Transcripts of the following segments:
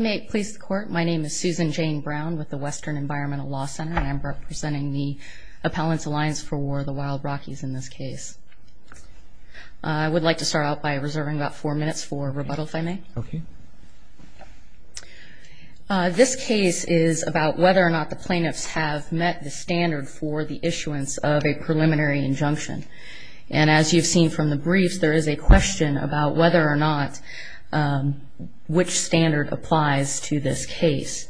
My name is Susan Jane Brown with the Western Environmental Law Center. I am representing the Appellants' Alliance for the Wild Rockies in this case. I would like to start off by reserving about four minutes for rebuttals, if I may. Okay. This case is about whether or not the plaintiffs have met the standard for the issuance of a preliminary injunction. And as you've seen from the brief, there is a question about whether or not which standard applies to this case.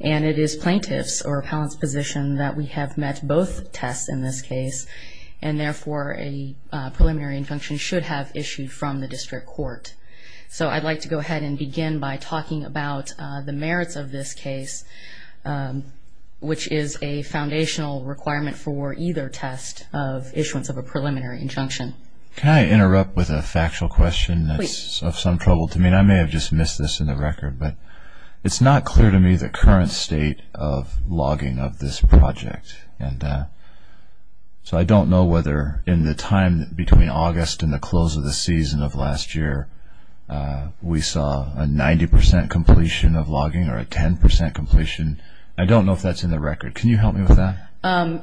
And it is plaintiff's or appellant's position that we have met both tests in this case, and therefore a preliminary injunction should have issued from the district court. So I'd like to go ahead and begin by talking about the merits of this case, which is a foundational requirement for either test of issuance of a preliminary injunction. Can I interrupt with a factual question? Please. This is of some trouble to me, and I may have just missed this in the record, but it's not clear to me the current state of logging of this project. So I don't know whether in the time between August and the close of the season of last year, we saw a 90 percent completion of logging or a 10 percent completion. I don't know if that's in the record. Can you help me with that?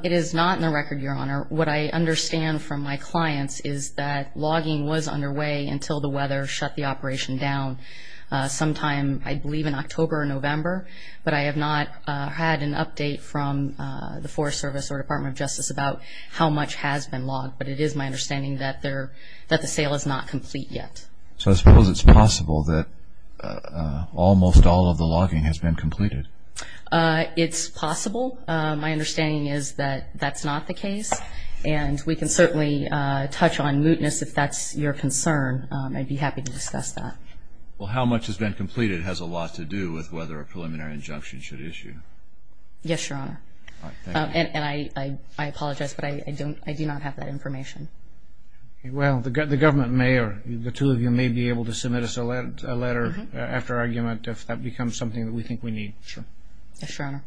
It is not in the record, Your Honor. What I understand from my clients is that logging was underway until the weather shut the operation down sometime, I believe, in October or November. But I have not had an update from the Forest Service or Department of Justice about how much has been logged. But it is my understanding that the sale is not complete yet. So I suppose it's possible that almost all of the logging has been completed. It's possible. My understanding is that that's not the case. And we can certainly touch on mootness if that's your concern. I'd be happy to discuss that. Well, how much has been completed has a lot to do with whether a preliminary injunction should issue. Yes, Your Honor. And I apologize, but I do not have that information. Well, the government may or the two of you may be able to submit us a letter after argument if that becomes something that we think we need. Sure. Yes, Your Honor.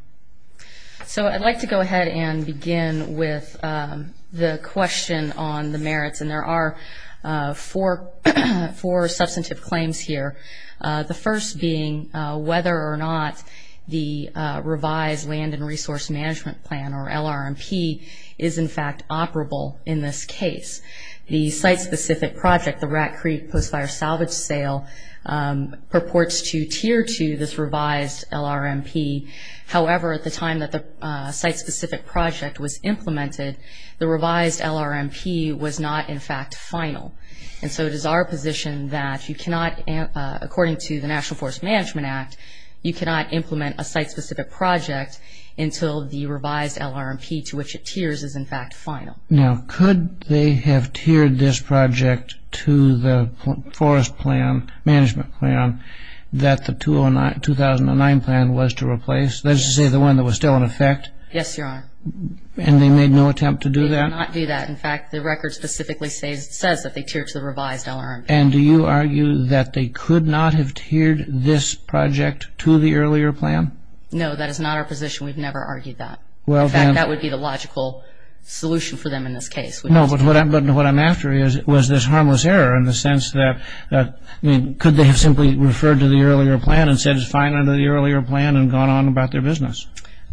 So I'd like to go ahead and begin with the question on the merits. And there are four substantive claims here. The first being whether or not the revised Land and Resource Management Plan, or LRMP, is in fact operable in this case. The site-specific project, the Rat Creek Post Fire Salvage Sale, purports to tier to this revised LRMP. However, at the time that the site-specific project was implemented, the revised LRMP was not in fact final. And so it is our position that you cannot, according to the National Forest Management Act, you cannot implement a site-specific project until the revised LRMP to which it tiers is in fact final. Now, could they have tiered this project to the forest plan, management plan, that the 2009 plan was to replace, that is to say the one that was still in effect? Yes, Your Honor. And they made no attempt to do that? They did not do that. In fact, the record specifically says that they tiered to the revised LRMP. And do you argue that they could not have tiered this project to the earlier plan? No, that is not our position. We've never argued that. In fact, that would be the logical solution for them in this case. No, but what I'm after is was this harmless error in the sense that, I mean, could they have simply referred to the earlier plan and said it's final to the earlier plan and gone on about their business?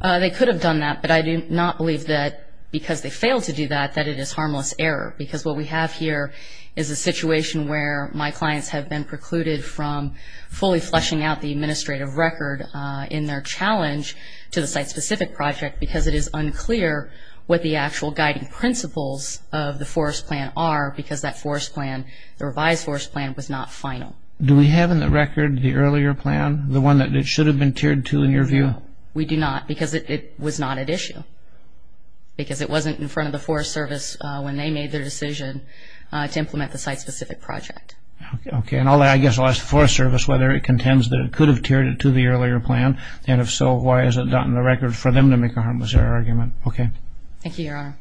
They could have done that, but I do not believe that because they failed to do that, that it is harmless error because what we have here is a situation where my clients have been precluded from fully fleshing out the administrative record in their challenge to the site-specific project because it is unclear what the actual guiding principles of the forest plan are because that forest plan, the revised forest plan, was not final. Do we have in the record the earlier plan, the one that it should have been tiered to in your view? We do not because it was not at issue because it wasn't in front of the Forest Service when they made their decision to implement the site-specific project. Okay. And I guess I'll ask the Forest Service whether it contends that it could have tiered it to the earlier plan, and if so, why is it not in the record for them to make a harmless error argument? Okay. Thank you, Your Honor.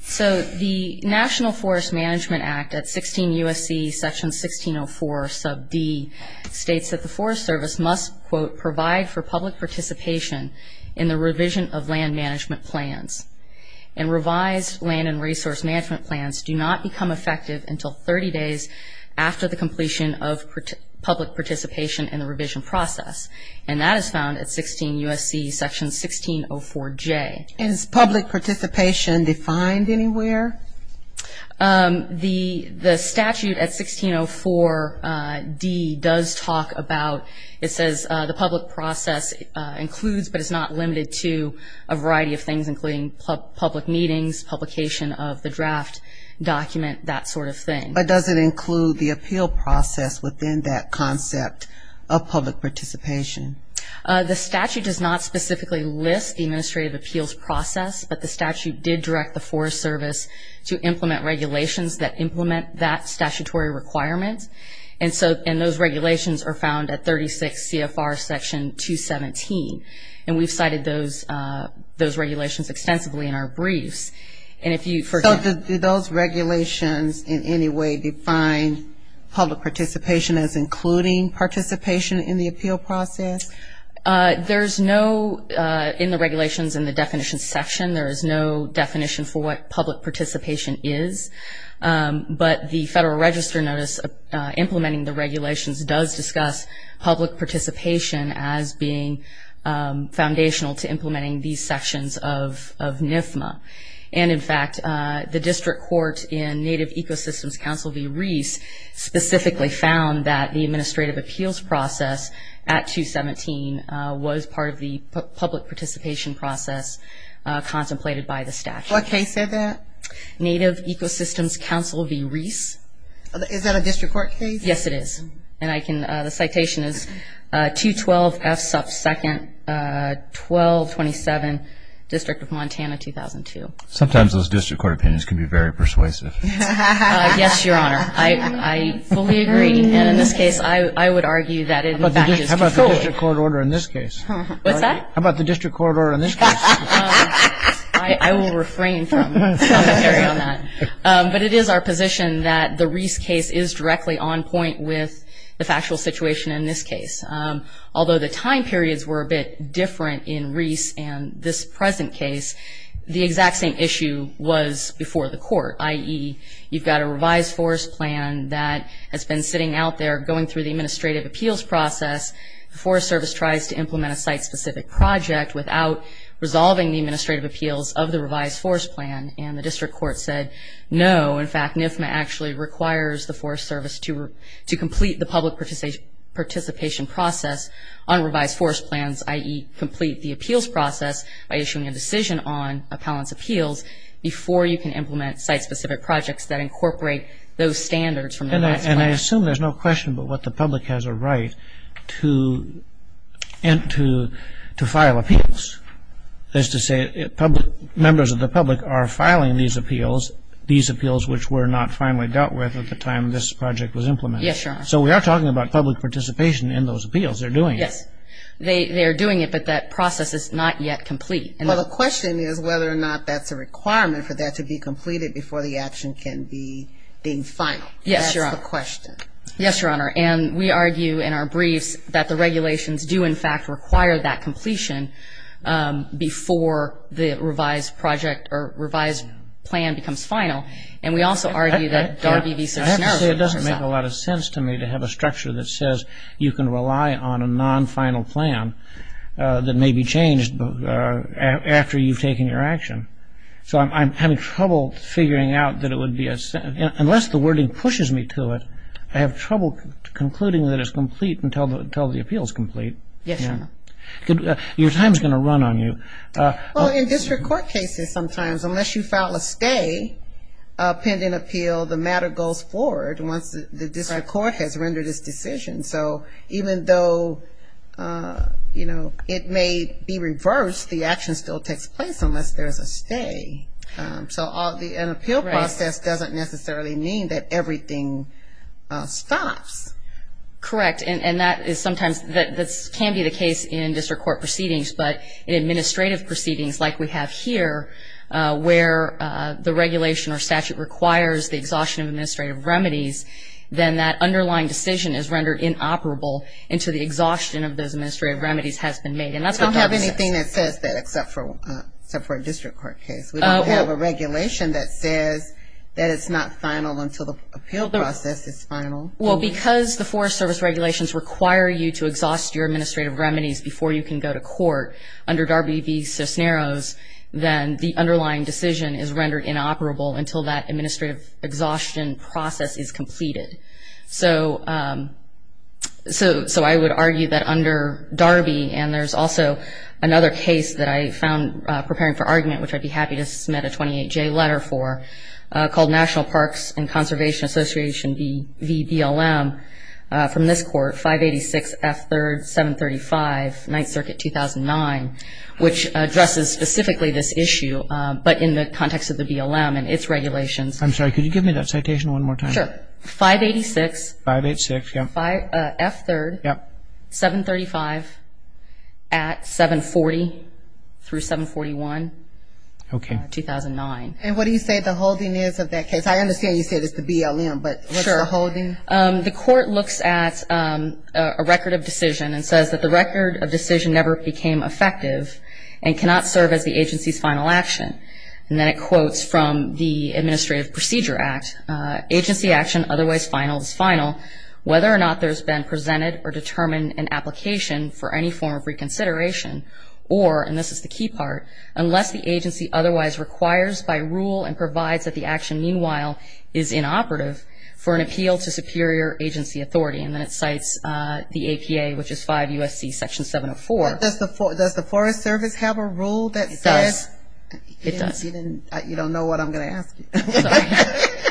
So the National Forest Management Act at 16 U.S.C. section 1604 sub B states that the Forest Service must, quote, provide for public participation in the revision of land management plans. And revised land and resource management plans do not become effective until 30 days after the completion of public participation in the revision process. And that is found at 16 U.S.C. section 1604 J. And is public participation defined anywhere? The statute at 1604 D does talk about, it says the public process includes but is not limited to a variety of things including public meetings, publication of the draft document, that sort of thing. But does it include the appeal process within that concept of public participation? The statute does not specifically list the administrative appeals process, but the statute did direct the Forest Service to implement regulations that implement that statutory requirement. And those regulations are found at 36 CFR section 217. And we cited those regulations extensively in our brief. So do those regulations in any way define public participation as including participation in the appeal process? There is no, in the regulations in the definition section, there is no definition for what public participation is. But the Federal Register notice implementing the regulations does discuss public participation as being foundational to implementing these sections of NIFMA. And, in fact, the district court in Native Ecosystems Council v. Rees specifically found that the administrative appeals process at 217 was part of the public participation process contemplated by the statute. What case is that? Native Ecosystems Council v. Rees. Is that a district court case? Yes, it is. And I can, the citation is 212 F. Sutts 2nd, 1227, District of Montana, 2002. Sometimes those district court opinions can be very persuasive. Yes, Your Honor. I fully agree. And in this case, I would argue that it is the statute's decision. How about the district court order in this case? What's that? How about the district court order in this case? I will refrain from arguing on that. But it is our position that the Rees case is directly on point with the factual situation in this case. Although the time periods were a bit different in Rees and this present case, the exact same issue was before the court, i.e., you've got a revised forest plan that has been sitting out there going through the administrative appeals process. The Forest Service tries to implement a site-specific project without resolving the administrative appeals of the revised forest plan. And the district court said no. In fact, NIFMA actually requires the Forest Service to complete the public participation process on revised forest plans, i.e., complete the appeals process by issuing a decision on appellant's appeals before you can implement site-specific projects that incorporate those standards. And I assume there's no question about what the public has a right to file appeals. That is to say, members of the public are filing these appeals, these appeals which were not finally dealt with at the time this project was implemented. Yes, Your Honor. So we are talking about public participation in those appeals. They're doing it. Yes. They are doing it, but that process is not yet complete. Well, the question is whether or not that's a requirement for that to be completed before the action can be being filed. Yes, Your Honor. That's the question. Yes, Your Honor. And we argue in our brief that the regulations do, in fact, require that completion before the revised project or revised plan becomes final. And we also argue that the RDD says no. I have to say it doesn't make a lot of sense to me to have a structure that says you can rely on a non-final plan that may be changed after you've taken your action. So I'm having trouble figuring out that it would be a sense. Unless the wording pushes me to it, I have trouble concluding that it's complete until the appeal is complete. Yes, Your Honor. Your time is going to run on you. Well, in district court cases sometimes, unless you file a stay pending appeal, the matter goes forward once the district court has rendered its decision. So even though, you know, it may be reversed, the action still takes place unless there's a stay. So an appeal process doesn't necessarily mean that everything stops. Correct. And that is sometimes that can be the case in district court proceedings. But in administrative proceedings, like we have here, where the regulation or statute requires the exhaustion of administrative remedies, then that underlying decision is rendered inoperable until the exhaustion of those administrative remedies has been made. I don't have anything that says that except for a district court case. We don't have a regulation that says that it's not final until the appeal process is final. Well, because the Forest Service regulations require you to exhaust your administrative remedies before you can go to court under Darby v. Cisneros, then the underlying decision is rendered inoperable until that administrative exhaustion process is completed. So I would argue that under Darby, and there's also another case that I found preparing for argument, which I'd be happy to submit a 28-J letter for, called National Parks and Conservation Association v. DLM from this court, 586 F. 3rd, 735, 9th Circuit, 2009, which addresses specifically this issue, but in the context of the DLM and its regulations. I'm sorry. Could you give me that citation one more time? Sure. 586 F. 3rd, 735 at 740 through 741, 2009. And what do you say the holding is of that case? I understand you said it's the DLM, but what's the holding? The court looks at a record of decision and says that the record of decision never became effective and cannot serve as the agency's final action. And then it quotes from the Administrative Procedure Act, agency action otherwise final is final whether or not there's been presented or determined an application for any form of reconsideration or, and this is the key part, unless the agency otherwise requires by rule and provides that the action, meanwhile, is inoperative for an appeal to superior agency authority. And then it cites the APA, which is 5 U.S.C. Section 704. Does the Forest Service have a rule that says? It does. You don't know what I'm going to ask you.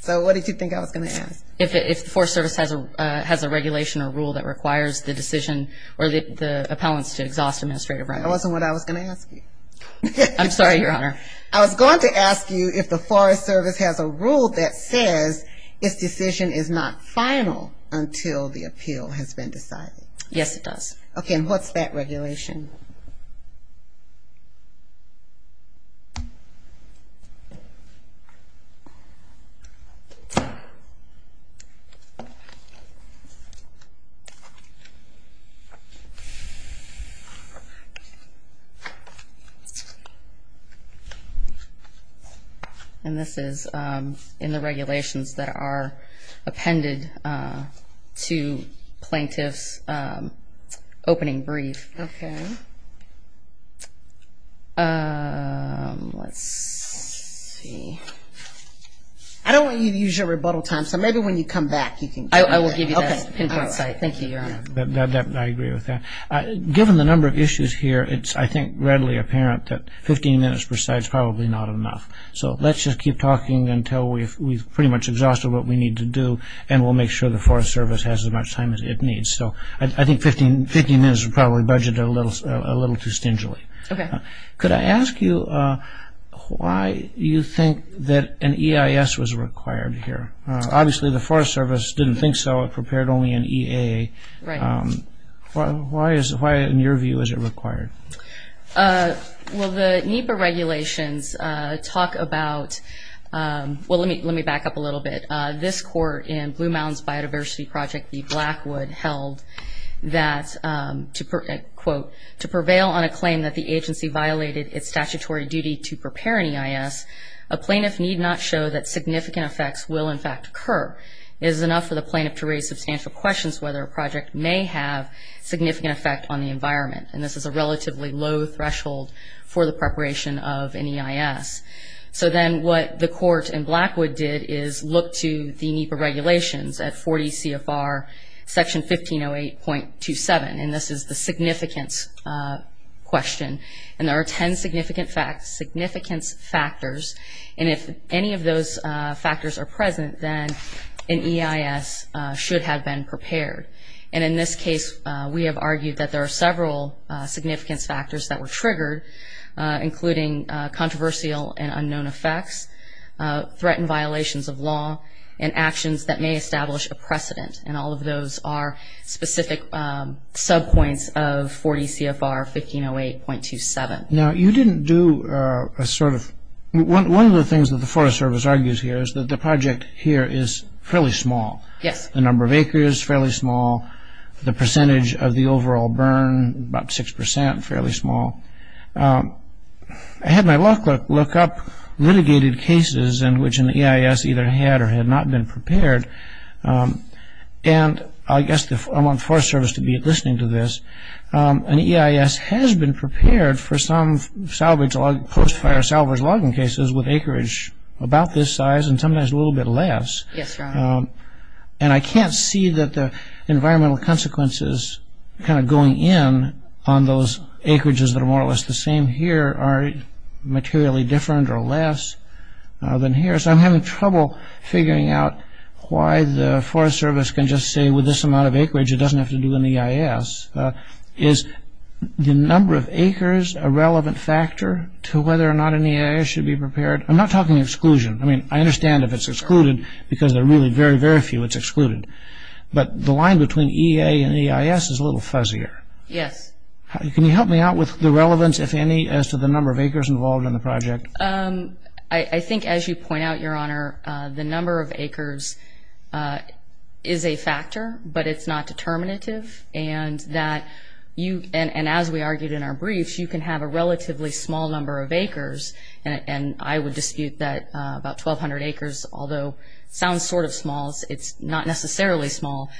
So what did you think I was going to ask? If the Forest Service has a regulation or rule that requires the decision or the appellants to exhaust administrative rights. That wasn't what I was going to ask you. I'm sorry, Your Honor. I was going to ask you if the Forest Service has a rule that says if decision is not final until the appeal has been decided. Yes, it does. Okay, and what's that regulation? And this is in the regulations that are appended to plaintiffs' opening briefs. Okay. Let's see. I don't want you to use your rebuttal time, so maybe when you come back you can. I will give you that. Okay. Thank you, Your Honor. I agree with that. Given the number of issues here, it's, I think, readily apparent that 15 minutes per site is probably not enough. So let's just keep talking until we've pretty much exhausted what we need to do and we'll make sure the Forest Service has as much time as it needs. So I think 15 minutes is probably budgeted a little too stingily. Okay. Could I ask you why you think that an EIS was required here? Obviously, the Forest Service didn't think so. It prepared only an EAA. Right. Why, in your view, is it required? Well, the NEPA regulations talk about, well, let me back up a little bit. This court in Blue Mountains Biodiversity Project v. Blackwood held that, quote, to prevail on a claim that the agency violated its statutory duty to prepare an EIS, a plaintiff need not show that significant effects will, in fact, occur. It is enough for the plaintiff to raise substantial questions whether a project may have significant effect on the environment. And this is a relatively low threshold for the preparation of an EIS. So then what the court in Blackwood did is look to the NEPA regulations at 40 CFR Section 1508.27. And this is the significance question. And there are ten significant facts, significant factors. And if any of those factors are present, then an EIS should have been prepared. And in this case, we have argued that there are several significant factors that were triggered, including controversial and unknown effects, threatened violations of law, and actions that may establish a precedent. And all of those are specific sub-points of 40 CFR 1508.27. Now, you didn't do a sort of... One of the things that the Forest Service argues here is that the project here is fairly small. Yes. The number of acres, fairly small. The percentage of the overall burn, about 6%, fairly small. I had my law clerk look up litigated cases in which an EIS either had or had not been prepared. And I guess I want the Forest Service to be listening to this. An EIS has been prepared for some post-fire salvage logging cases with acreage about this size and sometimes a little bit less. Yes, Your Honor. And I can't see that the environmental consequences kind of going in on those acreages that are more or less the same here are materially different or less than here. So I'm having trouble figuring out why the Forest Service can just say with this amount of acreage it doesn't have to do with an EIS. Is the number of acres a relevant factor to whether or not an EIS should be prepared? I'm not talking exclusion. I mean, I understand if it's excluded because there are really very, very few that's excluded. But the line between EA and EIS is a little fuzzier. Yes. Can you help me out with the relevance, if any, as to the number of acres involved in the project? I think as you point out, Your Honor, the number of acres is a factor, but it's not determinative. And as we argued in our briefs, you can have a relatively small number of acres, and I would dispute that about 1,200 acres, although it sounds sort of small, it's not necessarily small.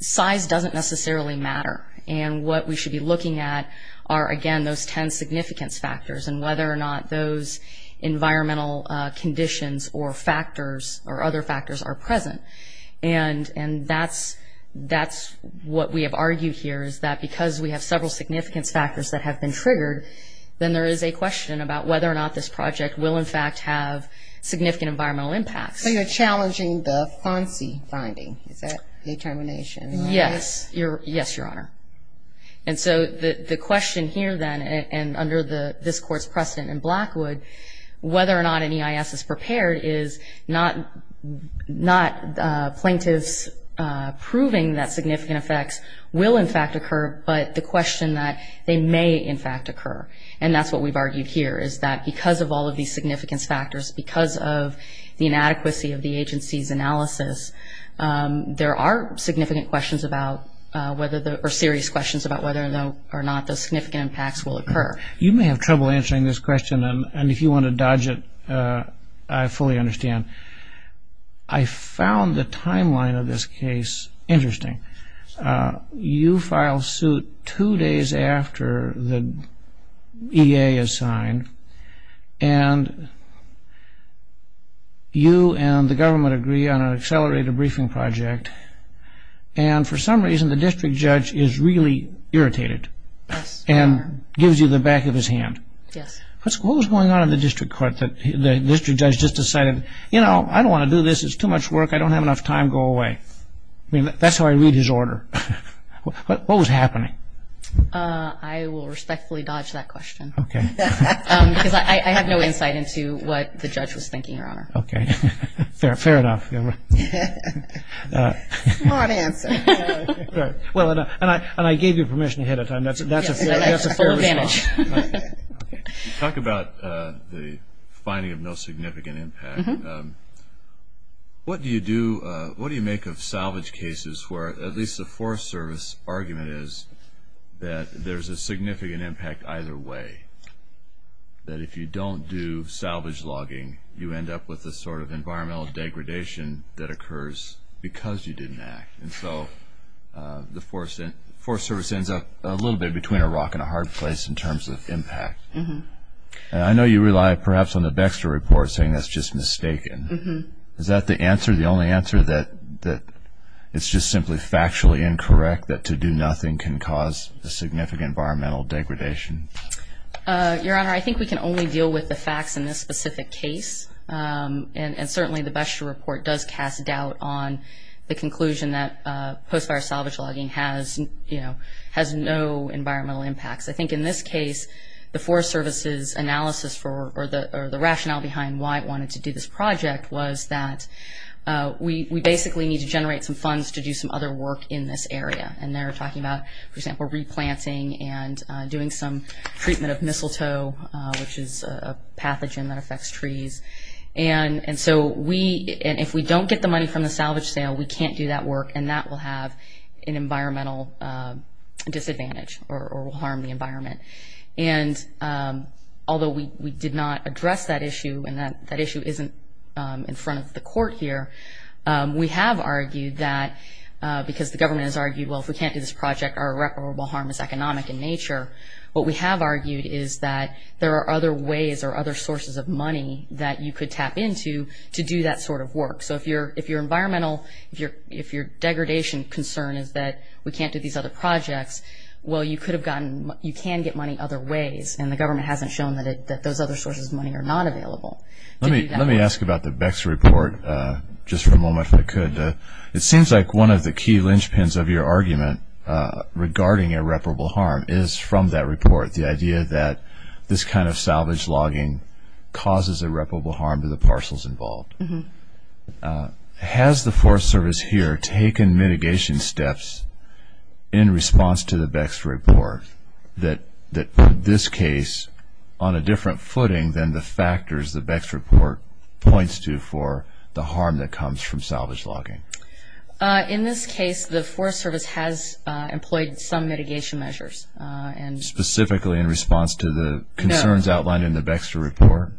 Size doesn't necessarily matter. And what we should be looking at are, again, those ten significance factors and whether or not those environmental conditions or factors or other factors are present. And that's what we have argued here is that because we have several significance factors that have been triggered, then there is a question about whether or not this project will, in fact, have significant environmental impacts. So you're challenging the Poncy finding, that determination? Yes. Yes, Your Honor. And so the question here, then, and under this Court's precedent in Blackwood, whether or not an EIS is prepared is not plaintiffs proving that significant effects will, in fact, occur, but the question that they may, in fact, occur. And that's what we've argued here is that because of all of these significance factors, because of the inadequacy of the agency's analysis, there are significant questions about whether the or serious questions about whether or not those significant impacts will occur. You may have trouble answering this question, and if you want to dodge it, I fully understand. I found the timeline of this case interesting. You file suit two days after the EA is signed, and you and the government agree on an accelerated briefing project, and for some reason the district judge is really irritated and gives you the back of his hand. What was going on in the district court that the district judge just decided, you know, I don't want to do this. It's too much work. I don't have enough time. Go away. That's how I read his order. What was happening? I will respectfully dodge that question. Okay. Because I have no insight into what the judge was thinking, Your Honor. Okay. Fair enough. Smart answer. Well, and I gave you permission ahead of time. That's a fair result. A fair advantage. You talk about the finding of no significant impact. What do you make of salvage cases where at least the Forest Service argument is that there's a significant impact either way, that if you don't do salvage logging, you end up with the sort of environmental degradation that occurs because you didn't act. And so the Forest Service ends up a little bit between a rock and a hard place in terms of impact. And I know you rely perhaps on the BEXTA report saying that's just mistaken. Is that the answer, the only answer, that it's just simply factually incorrect that to do nothing can cause a significant environmental degradation? Your Honor, I think we can only deal with the facts in this specific case. And certainly the BEXTA report does cast doubt on the conclusion that post-virus salvage logging has, you know, has no environmental impacts. I think in this case, the Forest Service's analysis or the rationale behind why I wanted to do this project was that we basically need to generate some funds to do some other work in this area. And they're talking about, for example, replanting and doing some treatment of mistletoe, which is a pathogen that affects trees. And so we – and if we don't get the money from the salvage sale, we can't do that work, and that will have an environmental disadvantage or will harm the environment. And although we did not address that issue and that issue isn't in front of the court here, we have argued that because the government has argued, well, if we can't do this project, our irreparable harm is economic in nature. What we have argued is that there are other ways or other sources of money that you could tap into to do that sort of work. So if your environmental – if your degradation concern is that we can't do these other projects, well, you could have gotten – you can get money other ways, and the government hasn't shown that those other sources of money are not available. Let me ask about the BEX report just for a moment if I could. It seems like one of the key linchpins of your argument regarding irreparable harm is from that report, the idea that this kind of salvage logging causes irreparable harm to the parcels involved. Has the Forest Service here taken mitigation steps in response to the BEX report that this case, on a different footing than the factors the BEX report points to for the harm that comes from salvage logging? In this case, the Forest Service has employed some mitigation measures. Specifically in response to the concerns outlined in the BEX report?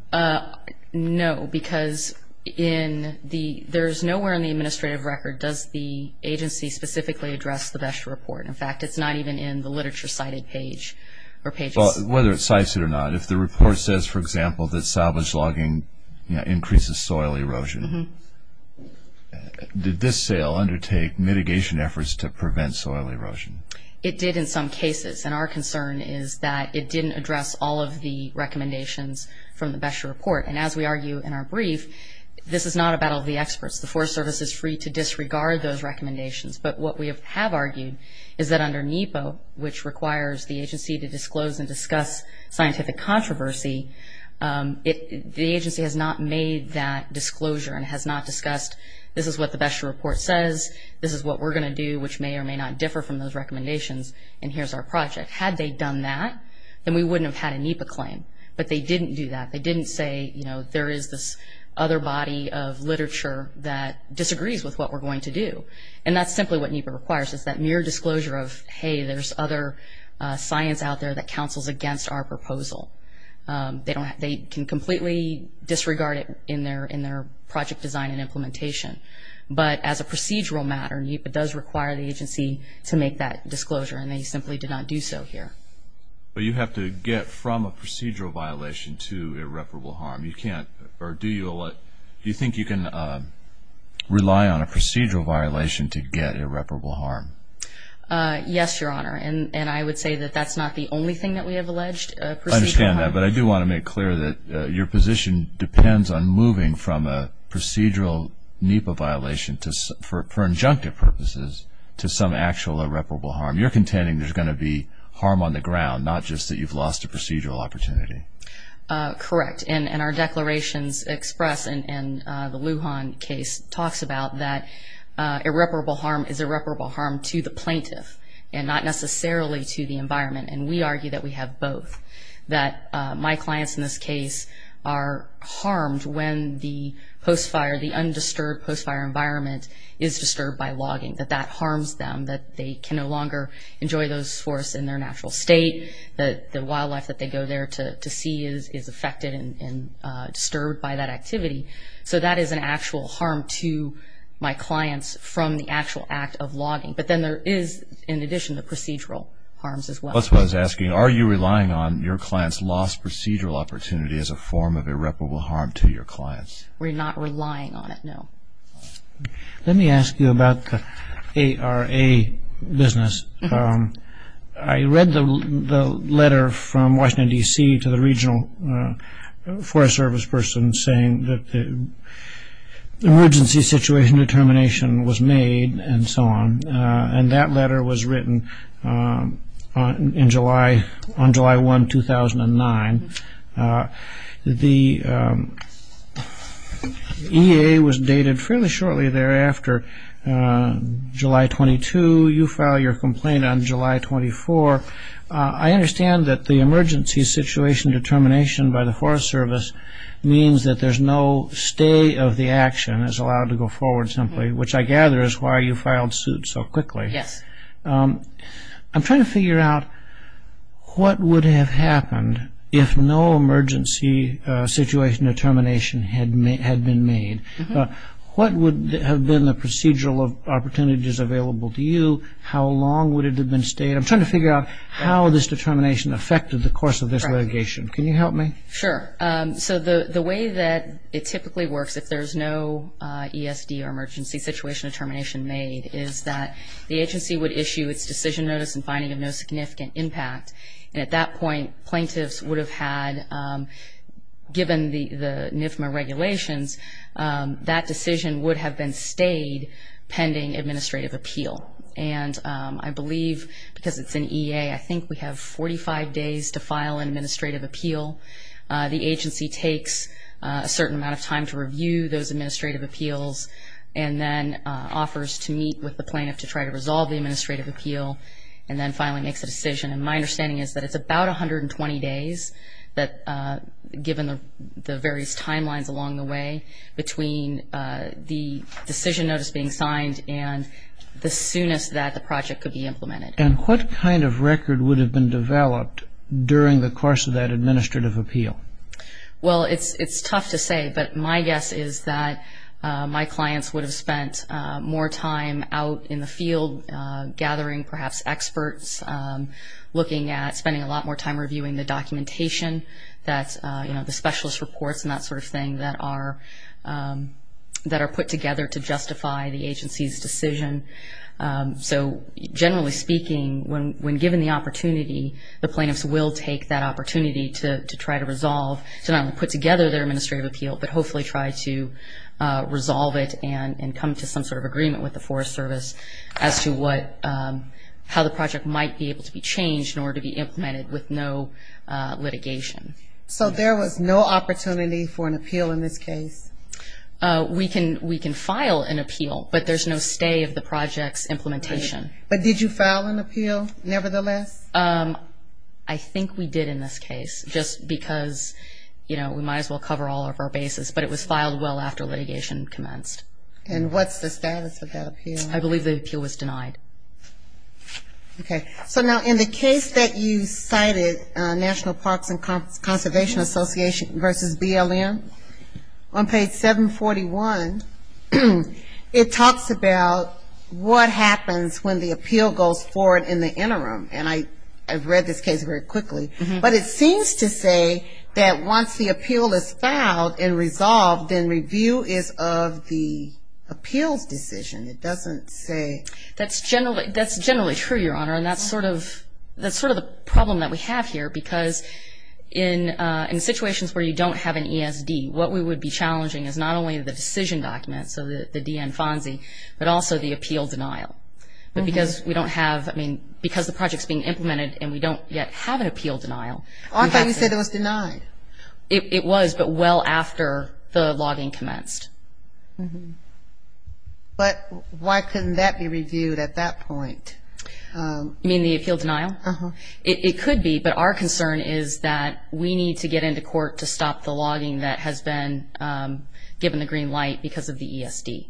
No, because in the – there is nowhere in the administrative record does the agency specifically address the BEX report. In fact, it's not even in the literature cited page or page – Well, whether it's cited or not, if the report says, for example, that salvage logging increases soil erosion, did this sale undertake mitigation efforts to prevent soil erosion? It did in some cases, and our concern is that it didn't address all of the recommendations from the BEX report. And as we argue in our brief, this is not a battle of the experts. The Forest Service is free to disregard those recommendations, but what we have argued is that under NEPA, which requires the agency to disclose and discuss scientific controversy, the agency has not made that disclosure and has not discussed this is what the BEX report says, this is what we're going to do, which may or may not differ from those recommendations, and here's our project. Had they done that, then we wouldn't have had a NEPA claim. But they didn't do that. They didn't say, you know, there is this other body of literature that disagrees with what we're going to do. And that's simply what NEPA requires is that mere disclosure of, hey, there's other science out there that counsels against our proposal. They can completely disregard it in their project design and implementation. But as a procedural matter, NEPA does require the agency to make that disclosure, and they simply did not do so here. But you have to get from a procedural violation to irreparable harm. Do you think you can rely on a procedural violation to get irreparable harm? Yes, Your Honor, and I would say that that's not the only thing that we have alleged. I understand that, but I do want to make clear that your position depends on moving from a procedural NEPA violation for injunctive purposes to some actual irreparable harm. You're contending there's going to be harm on the ground, not just that you've lost a procedural opportunity. Correct. And our declarations express, and the Lujan case talks about, that irreparable harm is irreparable harm to the plaintiff and not necessarily to the environment. And we argue that we have both, that my clients in this case are harmed when the post-fire, the undisturbed post-fire environment is disturbed by logging, that that harms them, that they can no longer enjoy those forests in their natural state, that the wildlife that they go there to see is affected and disturbed by that activity. So that is an actual harm to my clients from the actual act of logging. But then there is, in addition, the procedural harms as well. That's why I was asking, are you relying on your client's lost procedural opportunity as a form of irreparable harm to your clients? We're not relying on it, no. Let me ask you about the ARA business. I read the letter from Washington, D.C. to the regional forest service person saying that the emergency situation determination was made and so on, and that letter was written on July 1, 2009. The EA was dated fairly shortly thereafter. July 22, you file your complaint on July 24. I understand that the emergency situation determination by the forest service means that there's no stay of the action that's allowed to go forward simply, which I gather is why you filed suit so quickly. Yes. I'm trying to figure out what would have happened if no emergency situation determination had been made. What would have been the procedural opportunities available to you? How long would it have been stayed? I'm trying to figure out how this determination affected the course of this litigation. Can you help me? Sure. So the way that it typically works, if there's no ESD or emergency situation determination made, is that the agency would issue a decision notice and finding of no significant impact. And at that point, plaintiffs would have had, given the NISMA regulations, that decision would have been stayed pending administrative appeal. And I believe because it's an EA, I think we have 45 days to file an administrative appeal. The agency takes a certain amount of time to review those administrative appeals and then offers to meet with the plaintiff to try to resolve the administrative appeal and then finally makes a decision. And my understanding is that it's about 120 days, given the various timelines along the way, between the decision notice being signed and the soonest that the project could be implemented. And what kind of record would have been developed during the course of that administrative appeal? Well, it's tough to say, but my guess is that my clients would have spent more time out in the field gathering perhaps experts, looking at spending a lot more time reviewing the documentation that, you know, the specialist reports and that sort of thing that are put together to justify the agency's decision. So generally speaking, when given the opportunity, the plaintiffs will take that opportunity to try to resolve, to not only put together their administrative appeal, but hopefully try to resolve it and come to some sort of agreement with the Forest Service as to how the project might be able to be changed in order to be implemented with no litigation. So there was no opportunity for an appeal in this case? We can file an appeal, but there's no stay of the project's implementation. But did you file an appeal nevertheless? I think we did in this case, just because, you know, we might as well cover all of our bases. But it was filed well after litigation commenced. And what's the status of that appeal? I believe the appeal was denied. Okay. So now in the case that you cited, National Parks and Conservation Association versus BLM, on page 741, it talks about what happens when the appeal goes forward in the interim. And I've read this case very quickly. But it seems to say that once the appeal is filed and resolved, then review is of the appeal decision. It doesn't say... That's generally true, Your Honor. And that's sort of the problem that we have here, because in situations where you don't have an ESD, what we would be challenging is not only the decision document, so the DN-FONSI, but also the appeal denial. But because we don't have, I mean, because the project's being implemented and we don't yet have an appeal denial... I thought you said it was denied. It was, but well after the logging commenced. But why couldn't that be reviewed at that point? You mean the appeal denial? Uh-huh. It could be, but our concern is that we need to get into court to stop the logging that has been given the green light because of the ESD.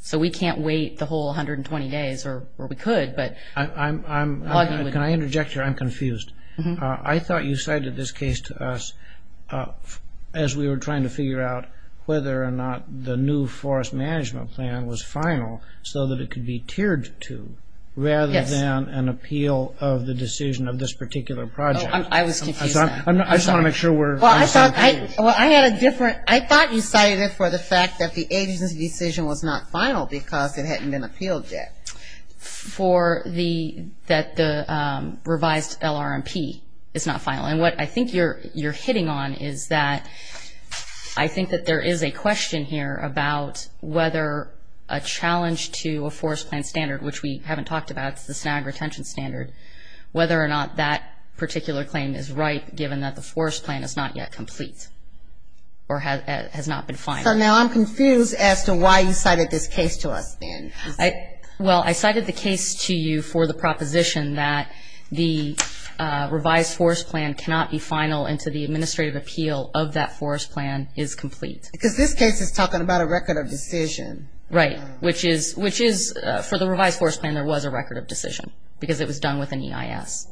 So we can't wait the whole 120 days, or we could, but... Can I interject here? I'm confused. I thought you said that this case to us as we were trying to figure out whether or not the new forest management plan was final so that it could be tiered to, rather than an appeal of the decision of this particular project. I was confused. I just want to make sure we're... Well, I had a different, I thought you cited it for the fact that the agency decision was not final because it hadn't been appealed yet. For the, that the revised LRMP is not final. And what I think you're hitting on is that I think that there is a question here about whether a challenge to a forest plan standard, which we haven't talked about, the snag retention standard, whether or not that particular claim is right given that the forest plan is not yet complete or has not been final. So now I'm confused as to why you cited this case to us then. Well, I cited the case to you for the proposition that the revised forest plan cannot be final until the administrative appeal of that forest plan is complete. Because this case is talking about a record of decision. Right, which is, for the revised forest plan, there was a record of decision because it was done within EIS.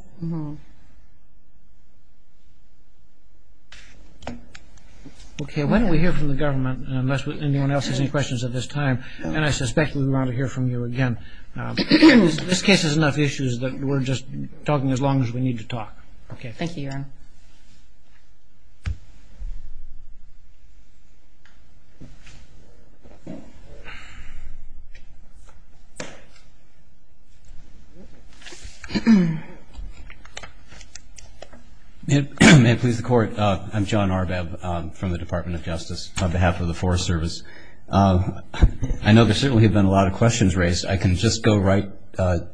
Okay, why don't we hear from the government unless anyone else has any questions at this time. And I suspect we want to hear from you again. This case has enough issues that we're just talking as long as we need to talk. Okay, thank you, Your Honor. May it please the Court, I'm John Arbeb from the Department of Justice on behalf of the Forest Service. I know there certainly have been a lot of questions raised. I can just go right to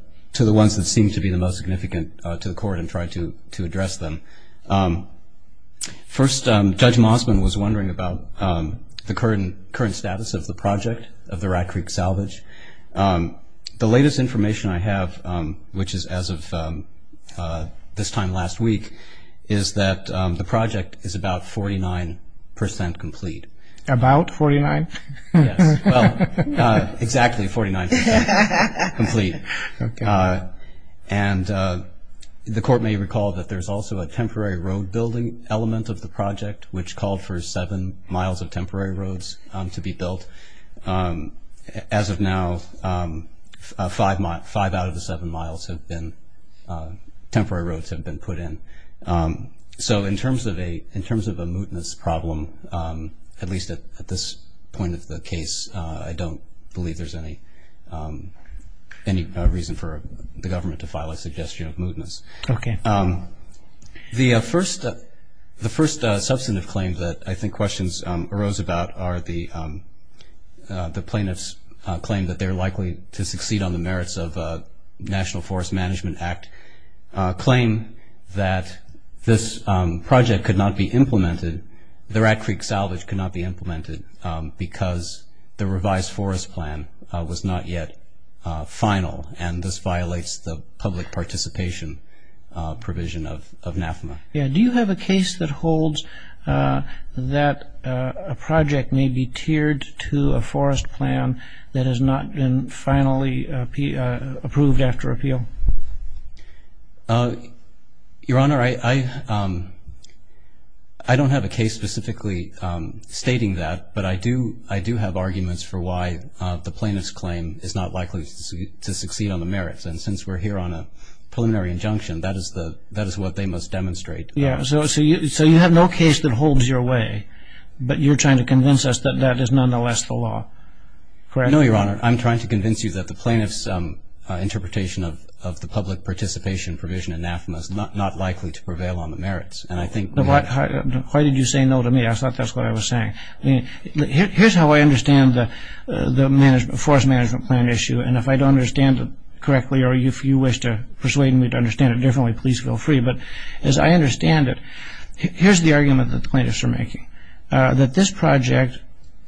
the ones that seem to be the most significant to the Court and try to address them. First, Judge Mossman was wondering about the current status of the project of the Rat Creek Salvage. The latest information I have, which is as of this time last week, is that the project is about 49% complete. About 49%? Well, exactly 49% complete. And the Court may recall that there's also a temporary road building element of the project, which called for seven miles of temporary roads to be built. As of now, five out of the seven miles have been, temporary roads have been put in. So in terms of a mootness problem, at least at this point of the case, I don't believe there's any reason for the government to file a suggestion of mootness. Okay. The first substantive claim that I think questions arose about are the plaintiffs' claim that they're likely to succeed on the that this project could not be implemented, the Rat Creek Salvage could not be implemented because the revised forest plan was not yet final and this violates the public participation provision of NAFMA. Do you have a case that holds that a project may be tiered to a forest plan that has not been finally approved after appeal? Your Honor, I don't have a case specifically stating that, but I do have arguments for why the plaintiffs' claim is not likely to succeed on the merits. And since we're here on a preliminary injunction, that is what they must demonstrate. Yeah, so you have no case that holds your way, but you're trying to convince us that that is nonetheless the law. No, Your Honor, I'm trying to convince you that the plaintiffs' interpretation of the public participation provision of NAFMA is not likely to prevail on the merits. Why did you say no to me? I thought that's what I was saying. Here's how I understand the forest management plan issue, and if I don't understand it correctly or if you wish to persuade me to understand it differently, please feel free. But as I understand it, here's the argument that the plaintiffs are making, that this project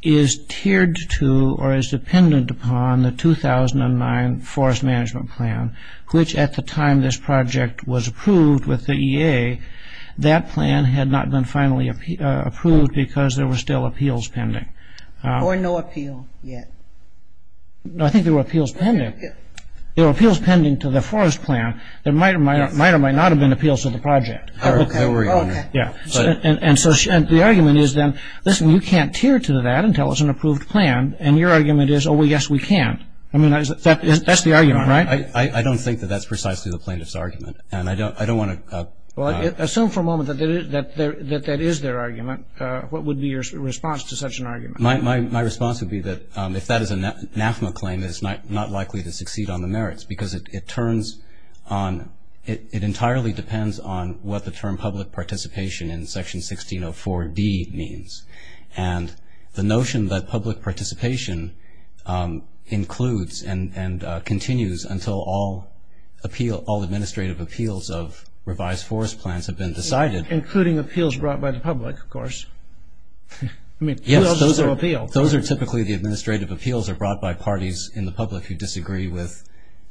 is tiered to or is dependent upon the 2009 forest management plan, which at the time this project was approved with the EA, that plan had not been finally approved because there were still appeals pending. Or no appeals yet. No, I think there were appeals pending. There were appeals pending to the forest plan that might or might not have been appeals to the project. And so the argument is then, listen, you can't tier to that until it's an approved plan, and your argument is, oh, well, yes, we can. I mean, that's the argument, right? I don't think that that's precisely the plaintiffs' argument, and I don't want to... Well, assume for a moment that that is their argument. What would be your response to such an argument? My response would be that if that is a NAFMA claim, it's not likely to succeed on the merits because it turns on...it entirely depends on what the term public participation in Section 1604B means. And the notion that public participation includes and continues until all administrative appeals of revised forest plans have been decided... Including appeals brought by the public, of course. Those are typically the administrative appeals that are brought by parties in the public who disagree with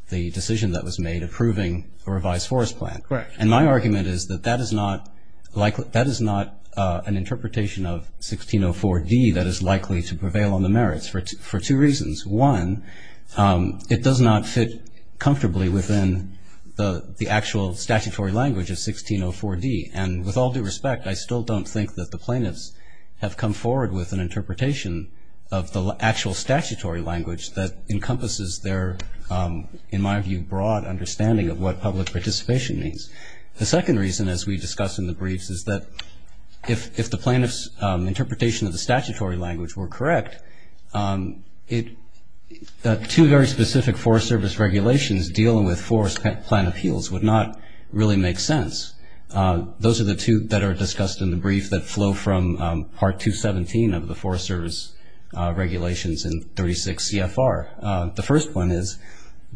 the decision that was made approving a revised forest plan. Correct. And my argument is that that is not an interpretation of 1604D that is likely to prevail on the merits for two reasons. One, it does not fit comfortably within the actual statutory language of 1604D. And with all due respect, I still don't think that the plaintiffs have come forward with an interpretation of the actual statutory language that encompasses their, in my view, broad understanding of what public participation means. The second reason, as we discussed in the briefs, is that if the plaintiffs' interpretation of the statutory language were correct, two very specific Forest Service regulations dealing with forest plan appeals would not really make sense. Those are the two that are discussed in the brief that flow from Part 217 of the Forest Service regulations in 36 CFR. The first one is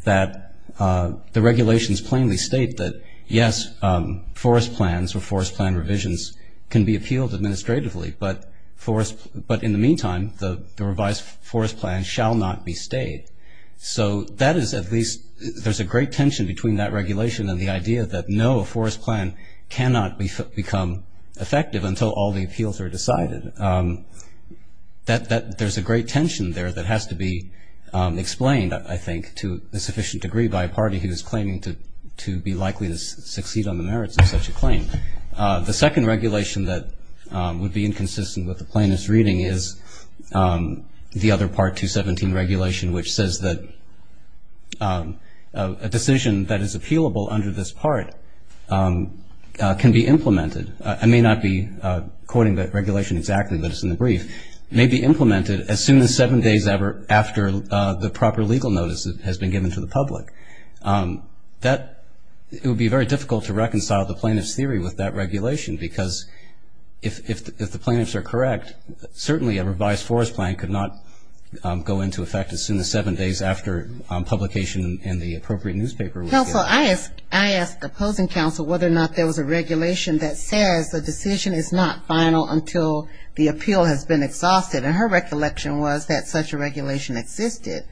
that the regulations plainly state that, yes, forest plans or forest plan revisions can be appealed administratively, but in the meantime, the revised forest plan shall not be stayed. So that is at least... There's a tension between that regulation and the idea that, no, a forest plan cannot become effective until all the appeals are decided. There's a great tension there that has to be explained, I think, to a sufficient degree by a party who is claiming to be likely to succeed on the merits of such a claim. The second regulation that would be inconsistent with the plaintiff's reading is the other Part 217 regulation, which says that a decision that is appealable under this part can be implemented. I may not be quoting that regulation exactly, but it's in the brief. It may be implemented as soon as seven days after the proper legal notice has been given to the public. It would be very difficult to reconcile the plaintiff's theory with that regulation because if the plaintiffs are correct, certainly a revised forest plan could not go into effect as soon as seven days after publication in the appropriate newspaper was given. Counsel, I asked the opposing counsel whether or not there was a regulation that says a decision is not final until the appeal has been exhausted, and her recollection was that such a regulation existed.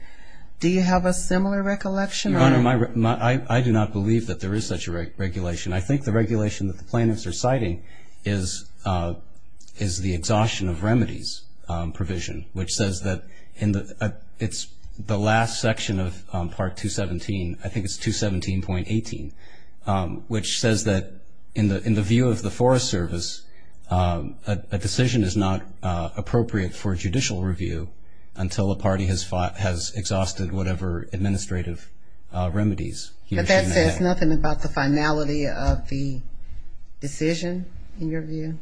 Do you have a similar recollection? I do not believe that there is such a regulation. I think the regulation that the plaintiffs are citing is the exhaustion of remedies provision, which says that in the last section of Part 217, I think it's 217.18, which says that in the view of the Forest Service, a decision is not appropriate for judicial review until a party has exhausted whatever administrative remedies. But there's nothing about the finality of the decision in your view?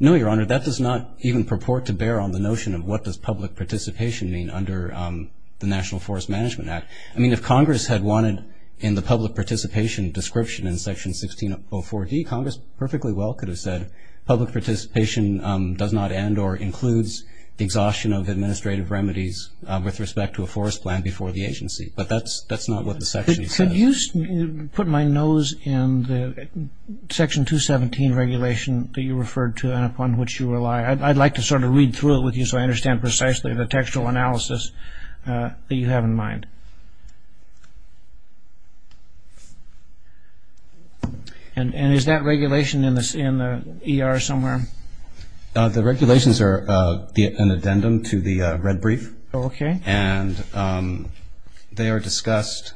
No, Your Honor. That does not even purport to bear on the notion of what does public participation mean under the National Forest Management Act. I mean, if Congress had wanted in the public participation description in Section 1604D, Congress perfectly well could have said public participation does not end or includes exhaustion of administrative remedies with respect to a forest plan before the agency. But that's not what the section says. Could you put my nose in the Section 217 regulation that you referred to and upon which you rely? I'd like to sort of read through it with you so I understand precisely the textual analysis that you have in mind. And is that regulation in the ER somewhere? The regulations are an addendum to the red brief. Okay. And they are discussed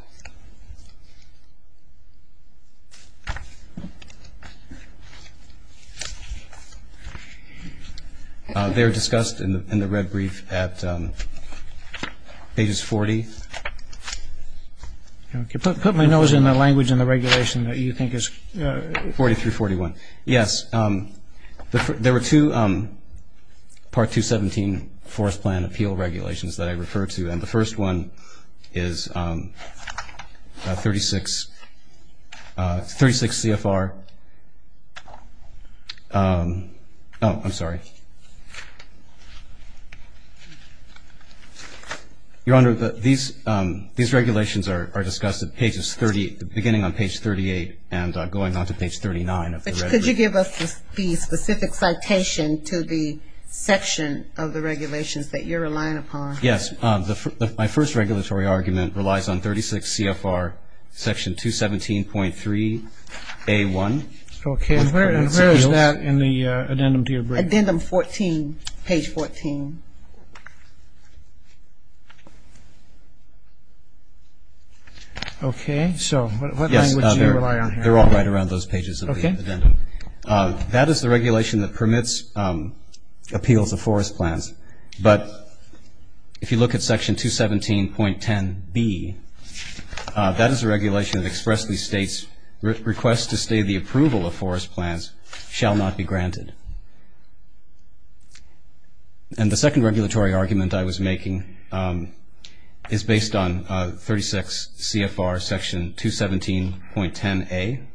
in the red brief at pages 40. Put my nose in the language in the regulation that you think is... 40 through 41. Yes. There were two Part 217 forest plan appeal regulations that I referred to. And the first one is 36 CFR. Oh, I'm sorry. Your Honor, these regulations are discussed at pages 30, beginning on page 38 and going on to page 39 of the regulation. Could you give us the specific citation to the section of the regulations that you're relying upon? Yes. My first regulatory argument relies on 36 CFR, Section 217.3A1. And where is that in the addendum to your brief? Addendum 14, page 14. Okay. So what language do you rely on here? They're all right around those pages of the addendum. That is the regulation that permits appeal to forest plans. But if you look at Section 217.10B, that is a regulation that expressly states, requests to stay the approval of forest plans shall not be granted. And the second regulatory argument I was making is based on 36 CFR, Section 217.10A.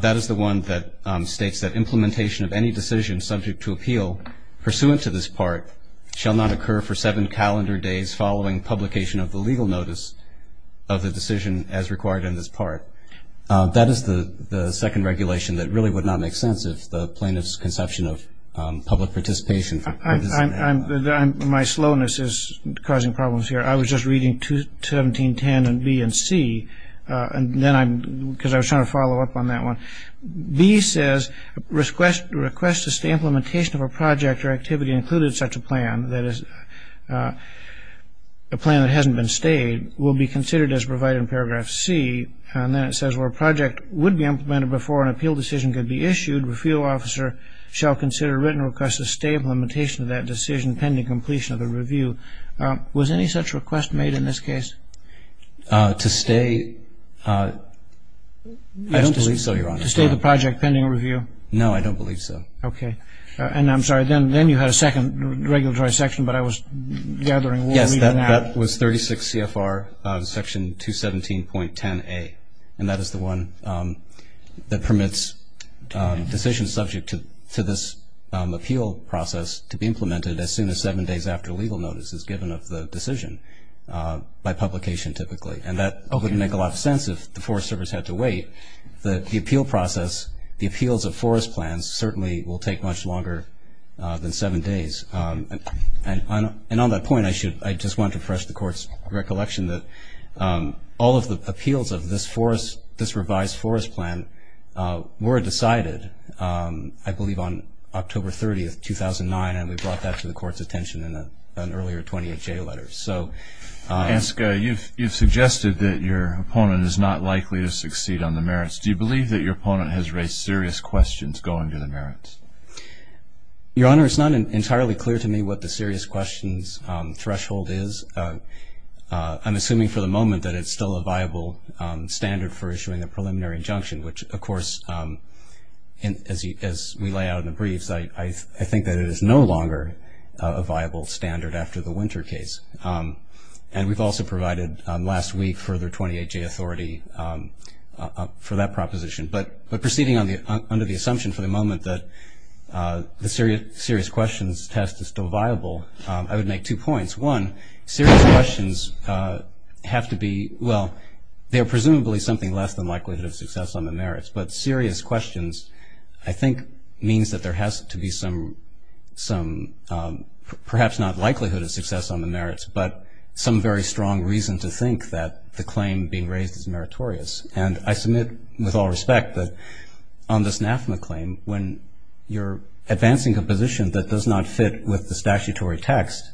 That is the one that states that implementation of any decision subject to appeal pursuant to this part shall not occur for seven calendar days following publication of the legal notice of the decision as required in this part. That is the second regulation that really would not make sense if the plaintiff's conception of public participation. My slowness is causing problems here. I was just reading 217.10B and C because I was trying to follow up on that one. B says, requests to stay implementation of a project or activity included in such a plan, that is a plan that hasn't been stayed, will be considered as provided in paragraph C. And then it says, where a project would be implemented before an appeal decision could be issued, the appeal officer shall consider written requests to stay for limitation of that decision pending completion of the review. Was any such request made in this case? To stay, I don't believe so, Your Honor. To stay the project pending review? No, I don't believe so. Okay. And I'm sorry, then you had a second regulatory section, but I was gathering what we do now. Yes, that was 36 CFR, Section 217.10A. And that is the one that permits decisions subject to this appeal process to be implemented as soon as seven days after legal notice is given of the decision by publication typically. And that would make a lot of sense if the Forest Service had to wait. The appeal process, the appeals of forest plans certainly will take much longer than seven days. And on that point, I just want to refresh the Court's recollection that all of the appeals of this forest, this revised forest plan were decided, I believe, on October 30th, 2009, and we brought that to the Court's attention in an earlier 20th day letter. So. You've suggested that your opponent is not likely to succeed on the merits. Do you believe that your opponent has raised serious questions going to the merits? Your Honor, it's not entirely clear to me what the serious questions threshold is. I'm assuming for the moment that it's still a viable standard for issuing a preliminary injunction, which, of course, as we lay out in the briefs, I think that it is no longer a viable standard after the Winter case. And we've also provided last week further 28G authority for that proposition. But proceeding under the assumption for the moment that the serious questions test is still viable, I would make two points. One, serious questions have to be, well, they're presumably something less than likelihood of success on the merits. But serious questions, I think, means that there has to be some, perhaps not likelihood of success on the merits, but some very strong reason to think that the claim being raised is meritorious. And I submit with all respect that on this NAFMA claim, when you're advancing a position that does not fit with the statutory text,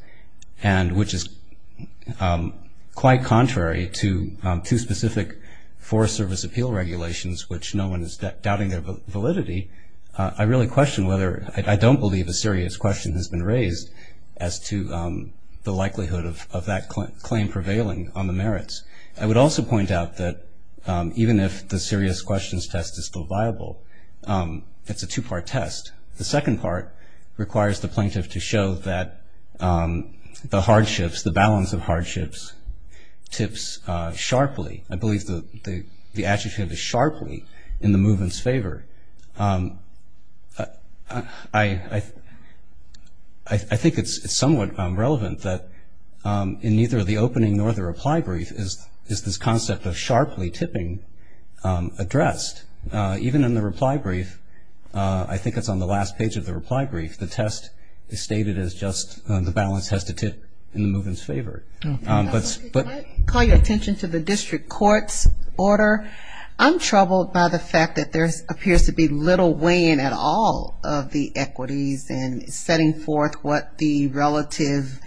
and which is quite contrary to two specific Forest Service appeal regulations, which no one is doubting of validity, I really question whether, I don't believe a serious question has been raised as to the likelihood of that claim prevailing on the merits. I would also point out that even if the serious questions test is still viable, it's a two-part test. The second part requires the plaintiff to show that the balance of hardships tips sharply. I believe the adjective is sharply in the movement's favor. I think it's somewhat relevant that in neither the opening nor the reply brief is this concept of sharply tipping addressed. Even in the reply brief, I think it's on the last page of the reply brief, the test is stated as just the balance has to tip in the movement's favor. I call your attention to the district court's order. I'm troubled by the fact that there appears to be little weigh-in at all of the equities in setting forth what the relative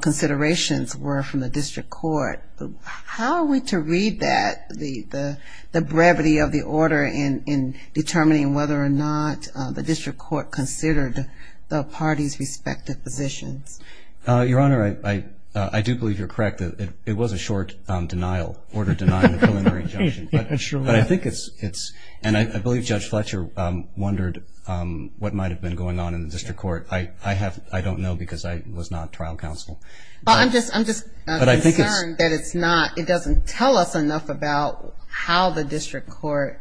considerations were from the district court. How are we to read that, the gravity of the order in determining whether or not the district court considered the parties' respective positions? Your Honor, I do believe you're correct. It was a short order denying a preliminary injunction. I believe Judge Fletcher wondered what might have been going on in the district court. I don't know because I was not trial counsel. I'm just concerned that it doesn't tell us enough about how the district court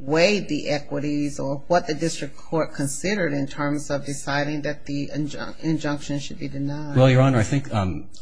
weighed the equities or what the district court considered in terms of deciding that the injunction should be denied. Well, Your Honor, I think,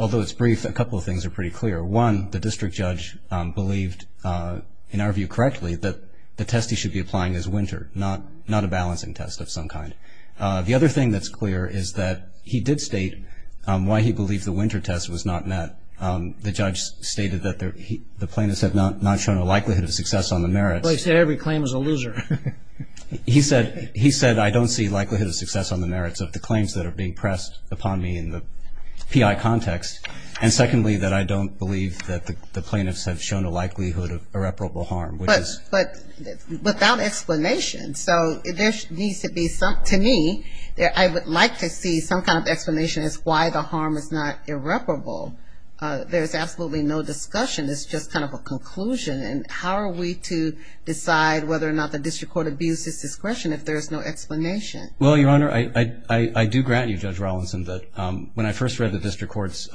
although it's brief, a couple of things are pretty clear. One, the district judge believed, in our view correctly, that the test he should be applying is winter, not a balancing test of some kind. The other thing that's clear is that he did state why he believed the winter test was not met. The judge stated that the plaintiffs had not shown a likelihood of success on the merit. Well, he said every claim is a loser. He said, I don't see likelihood of success on the merits of the claims that are being pressed upon me in the PI context. And secondly, that I don't believe that the plaintiffs have shown a likelihood of irreparable harm. But without explanation. So there needs to be, to me, I would like to see some kind of explanation as to why the harm is not irreparable. There's absolutely no discussion. It's just kind of a conclusion. And how are we to decide whether or not the district court abuses discretion if there is no explanation? Well, Your Honor, I do grant you, Judge Rawlinson, that when I first read the district court's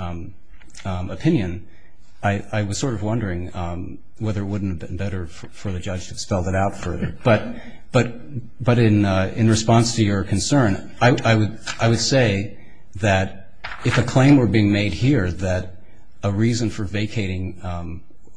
opinion, I was sort of wondering whether it wouldn't have been better for the judge to spell that out further. But in response to your concern, I would say that if a claim were being made here that a reason for vacating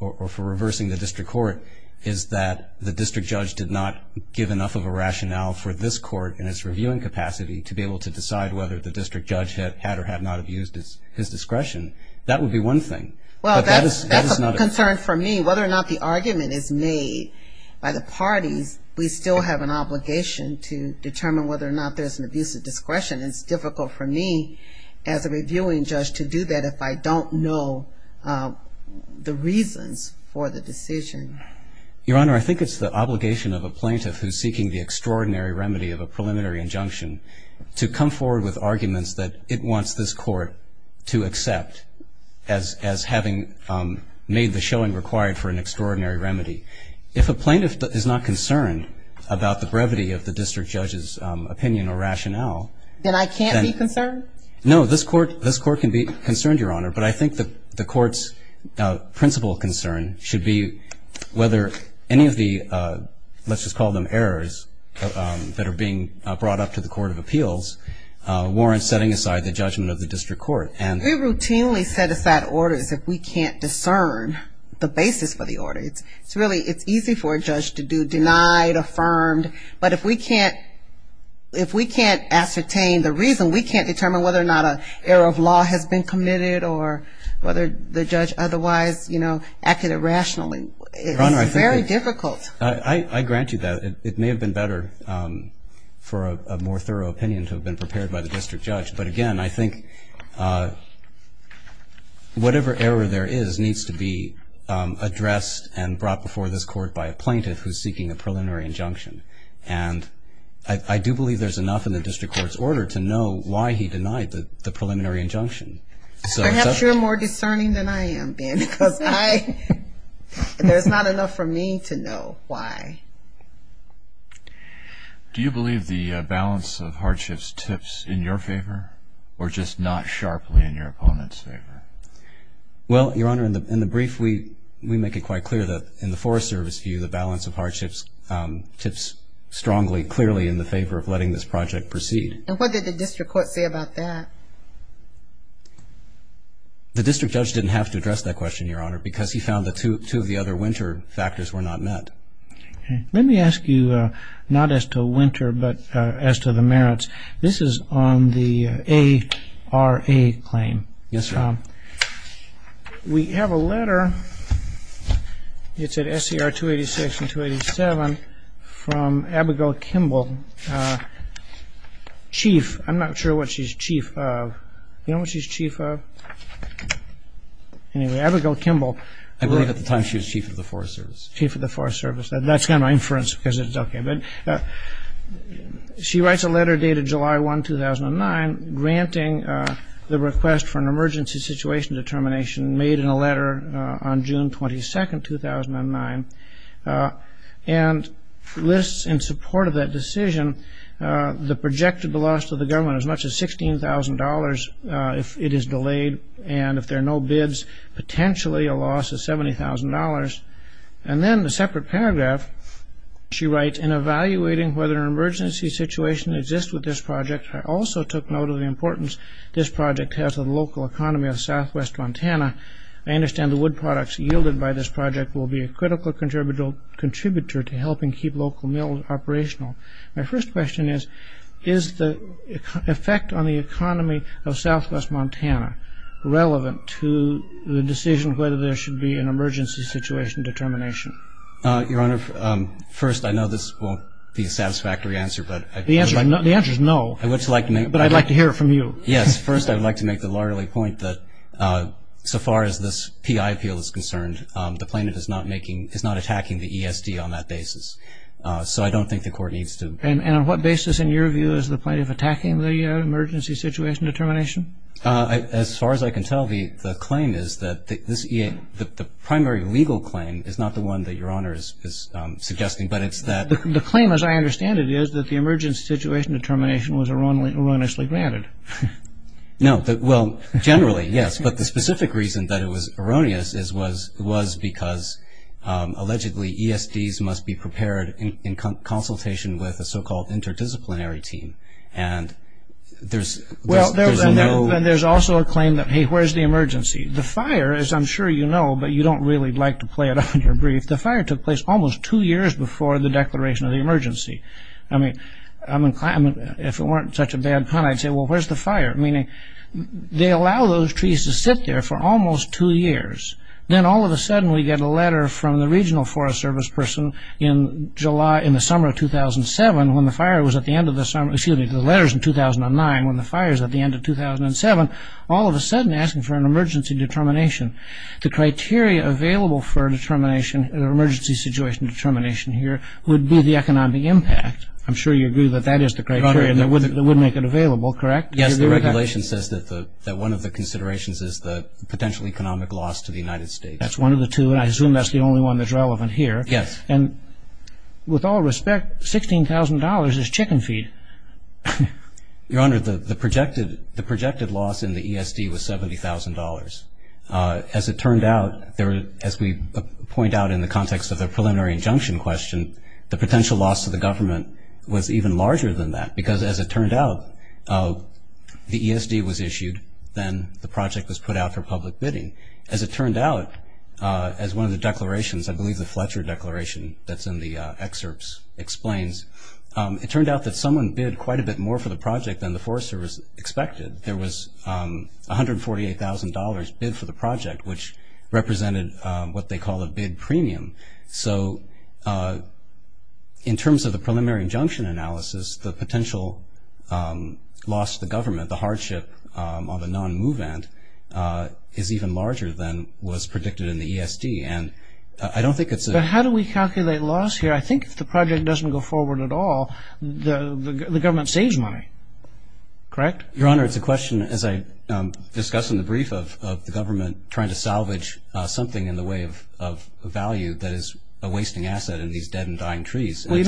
or for reversing the district court is that the district judge did not give enough of a rationale for this court in its reviewing capacity to be able to decide whether the district judge had or had not abused his discretion, that would be one thing. Well, that's a concern for me. Whether or not the argument is made by the parties, we still have an obligation to determine whether or not there's an abuse of discretion. It's difficult for me as a reviewing judge to do that if I don't know the reasons for the decision. Your Honor, I think it's the obligation of a plaintiff who's seeking the extraordinary remedy of a preliminary injunction to come forward with arguments that it wants this court to accept as having made the showing required for an extraordinary remedy. If a plaintiff is not concerned about the brevity of the district judge's opinion or rationale, then I can't be concerned? No, this court can be concerned, Your Honor, but I think the court's principal concern should be whether any of the, let's just call them errors, that are being brought up to the court of appeals warrant setting aside the judgment of the district court. We routinely set aside orders if we can't discern the basis for the orders. It's really easy for a judge to do denied, affirmed, but if we can't ascertain the reason, we can't determine whether or not an error of law has been committed or whether the judge otherwise acted irrationally. It's very difficult. I grant you that. It may have been better for a more thorough opinion to have been prepared by the district judge, but, again, I think whatever error there is needs to be addressed and brought before this court by a plaintiff who's seeking a preliminary injunction, and I do believe there's enough in the district court's order to know why he denied the preliminary injunction. Perhaps you're more discerning than I am, Dan, because there's not enough for me to know why. Do you believe the balance of hardships tips in your favor or just not sharply in your opponent's favor? Well, Your Honor, in the brief, we make it quite clear that in the Forest Service view, the balance of hardships tips strongly, clearly in the favor of letting this project proceed. And what did the district court say about that? The district judge didn't have to address that question, Your Honor, because he found that two of the other winter factors were not met. Let me ask you not as to winter but as to the merits. This is on the ARA claim. We have a letter. It's at SCR 286 and 287 from Abigail Kimball, chief. I'm not sure what she's chief of. Do you know what she's chief of? Anyway, Abigail Kimball. I believe at the time she was chief of the Forest Service. Chief of the Forest Service. That's kind of inference because it's okay. She writes a letter dated July 1, 2009, granting the request for an emergency situation determination made in a letter on June 22, 2009, and lists in support of that decision the projected loss of the government as much as $16,000 if it is delayed, and if there are no bids, potentially a loss of $70,000. And then the separate paragraph, she writes, in evaluating whether an emergency situation exists with this project, I also took note of the importance this project has on the local economy of southwest Montana. I understand the wood products yielded by this project will be a critical contributor to helping keep local mills operational. My first question is, is the effect on the economy of southwest Montana relevant to the decision of whether there should be an emergency situation determination? Your Honor, first, I know this won't be a satisfactory answer. The answer is no, but I'd like to hear it from you. Yes, first I'd like to make the largely point that so far as this PI appeal is concerned, the plaintiff is not attacking the ESD on that basis. So I don't think the court needs to... And on what basis, in your view, is the plaintiff attacking the emergency situation determination? As far as I can tell, the claim is that the primary legal claim is not the one that Your Honor is suggesting, but it's that... The claim, as I understand it, is that the emergency situation determination was erroneously granted. No, well, generally, yes, but the specific reason that it was erroneous was because allegedly ESDs must be prepared in consultation with a so-called interdisciplinary team, and there's no... Well, and there's also a claim that, hey, where's the emergency? The fire, as I'm sure you know, but you don't really like to play it on your brief, the fire took place almost two years before the declaration of the emergency. I mean, if it weren't such a bad pun, I'd say, well, where's the fire? Meaning, they allow those trees to sit there for almost two years, then all of a sudden we get a letter from the regional forest service person in July, in the summer of 2007, when the fire was at the end of the summer... Excuse me, the letter's in 2009, when the fire's at the end of 2007, all of a sudden asking for an emergency determination. The criteria available for a determination, an emergency situation determination here, would be the economic impact. I'm sure you agree that that is the criteria that would make it available, correct? Yes, the regulation says that one of the considerations is the potential economic loss to the United States. That's one of the two, and I assume that's the only one that's relevant here. Yes. And with all respect, $16,000 is chicken feed. Your Honor, the projected loss in the ESD was $70,000. As it turned out, as we point out in the context of the preliminary injunction question, the potential loss to the government was even larger than that, because as it turned out, the ESD was issued, then the project was put out for public bidding. As it turned out, as one of the declarations, I believe the Fletcher Declaration that's in the excerpts explains, it turned out that someone bid quite a bit more for the project than the forest service expected. There was $148,000 bid for the project, which represented what they call a bid premium. So in terms of the preliminary injunction analysis, the potential loss to the government, the hardship on the non-movement, is even larger than was predicted in the ESD. But how do we calculate loss here? I think if the project doesn't go forward at all, the government saves money, correct? Your Honor, it's a question, as I discussed in the brief, of the government trying to salvage something in the way of value that is a wasting asset in these dead and dying trees. If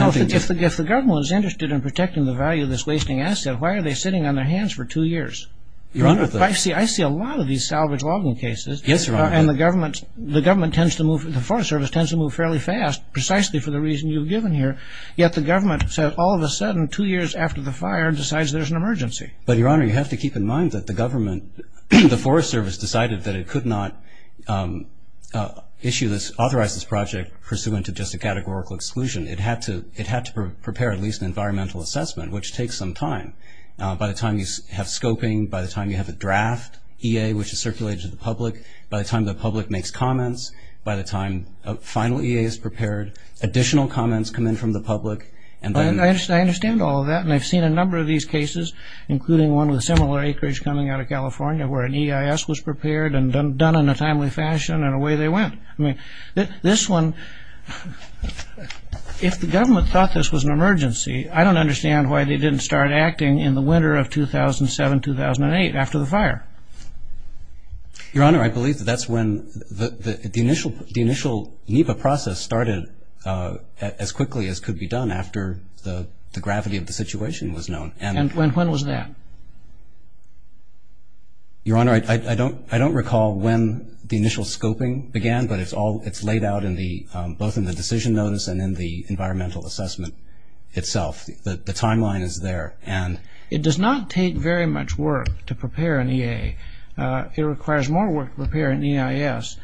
the government was interested in protecting the value of this wasting asset, why are they sitting on their hands for two years? I see a lot of these salvage logging cases, and the government tends to move, the forest service tends to move fairly fast, precisely for the reason you've given here, yet the government all of a sudden, two years after the fire, decides there's an emergency. But Your Honor, you have to keep in mind that the government, the forest service, decided that it could not authorize this project pursuant to just a categorical exclusion. It had to prepare at least an environmental assessment, which takes some time. By the time you have scoping, by the time you have a draft EA, which is circulated to the public, by the time the public makes comments, by the time a final EA is prepared, additional comments come in from the public. I understand all of that, and I've seen a number of these cases, including one with a similar acreage coming out of California where an EIS was prepared and done in a timely fashion, and away they went. This one, if the government thought this was an emergency, I don't understand why they didn't start acting in the winter of 2007-2008 after the fire. Your Honor, I believe that that's when the initial NEPA process started as quickly as could be done after the gravity of the situation was known. And when was that? Your Honor, I don't recall when the initial scoping began, but it's laid out both in the decision notes and in the environmental assessment itself. The timeline is there. It does not take very much work to prepare an EA. It requires more work to prepare an EIS,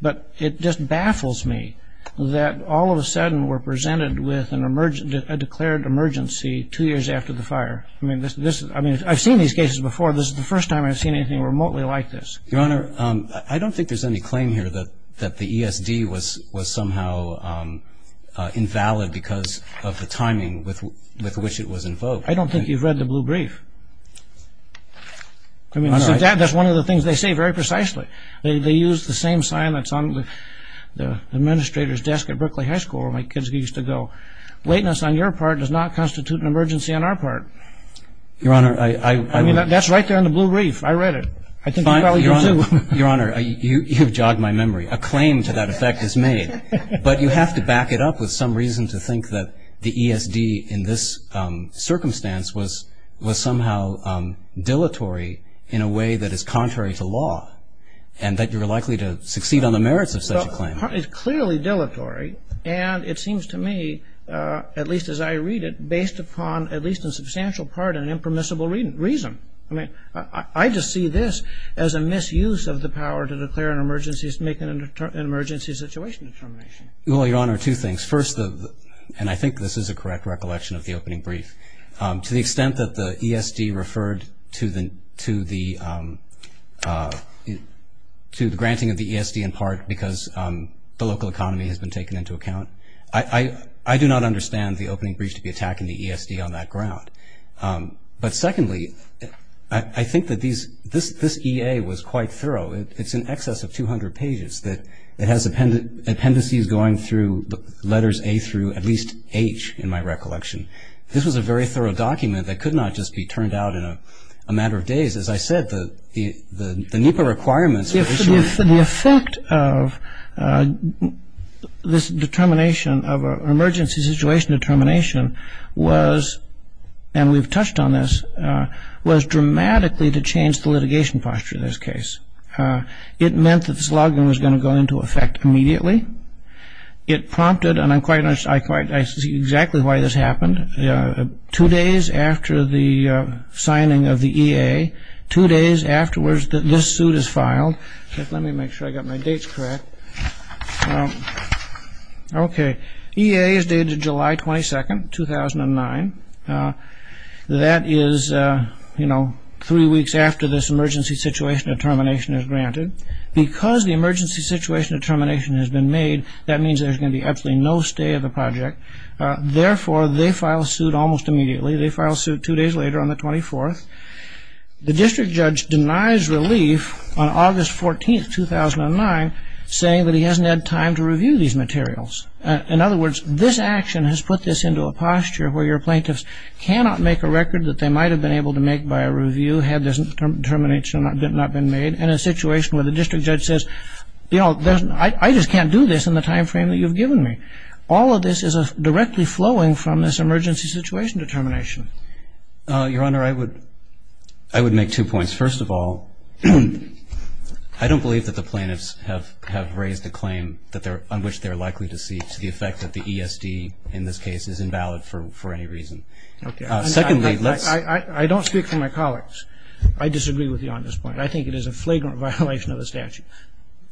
but it just baffles me that all of a sudden we're presented with a declared emergency two years after the fire. I mean, I've seen these cases before. This is the first time I've seen anything remotely like this. Your Honor, I don't think there's any claim here that the ESD was somehow invalid because of the timing with which it was invoked. I don't think you've read the Blue Brief. I mean, that's one of the things they say very precisely. They use the same sign that's on the administrator's desk at Berkeley High School where my kids used to go. Lateness on your part does not constitute an emergency on our part. Your Honor, I... I mean, that's right there in the Blue Brief. I read it. I think you probably do too. Your Honor, you've jogged my memory. A claim to that effect is made, but you have to back it up with some reason to think that the ESD in this circumstance was somehow dilatory in a way that is contrary to law and that you're likely to succeed on the merits of such a claim. It's clearly dilatory, and it seems to me, at least as I read it, based upon at least in substantial part an impermissible reason. I mean, I just see this as a misuse of the power to declare an emergency to make an emergency situation information. Your Honor, two things. First, and I think this is a correct recollection of the opening brief, to the extent that the ESD referred to the granting of the ESD in part because the local economy has been taken into account, I do not understand the opening brief to be attacking the ESD on that ground. But secondly, I think that this EA was quite thorough. It's in excess of 200 pages. It has appendices going through letters A through at least H in my recollection. This was a very thorough document that could not just be turned out in a matter of days. As I said, the NEPA requirements... The effect of this determination of an emergency situation determination was, and we've touched on this, was dramatically to change the litigation posture in this case. It meant that this login was going to go into effect immediately. It prompted, and I see exactly why this happened, two days after the signing of the EA, two days afterwards that this suit is filed. Let me make sure I got my dates correct. Okay. EA is dated July 22nd, 2009. That is, you know, three weeks after this emergency situation determination is granted. Because the emergency situation determination has been made, that means there's going to be absolutely no stay of the project. Therefore, they file a suit almost immediately. They file a suit two days later on the 24th. The district judge denies relief on August 14th, 2009, saying that he hasn't had time to review these materials. In other words, this action has put this into a posture where your plaintiffs cannot make a record that they might have been able to make by a review had this determination not been made in a situation where the district judge says, you know, I just can't do this in the time frame that you've given me. All of this is directly flowing from this emergency situation determination. Your Honor, I would make two points. First of all, I don't believe that the plaintiffs have raised a claim on which they're likely to speak to the effect that the ESD in this case is invalid for any reason. Secondly, let's... I don't speak for my colleagues. I disagree with you on this point. I think it is a flagrant violation of the statute.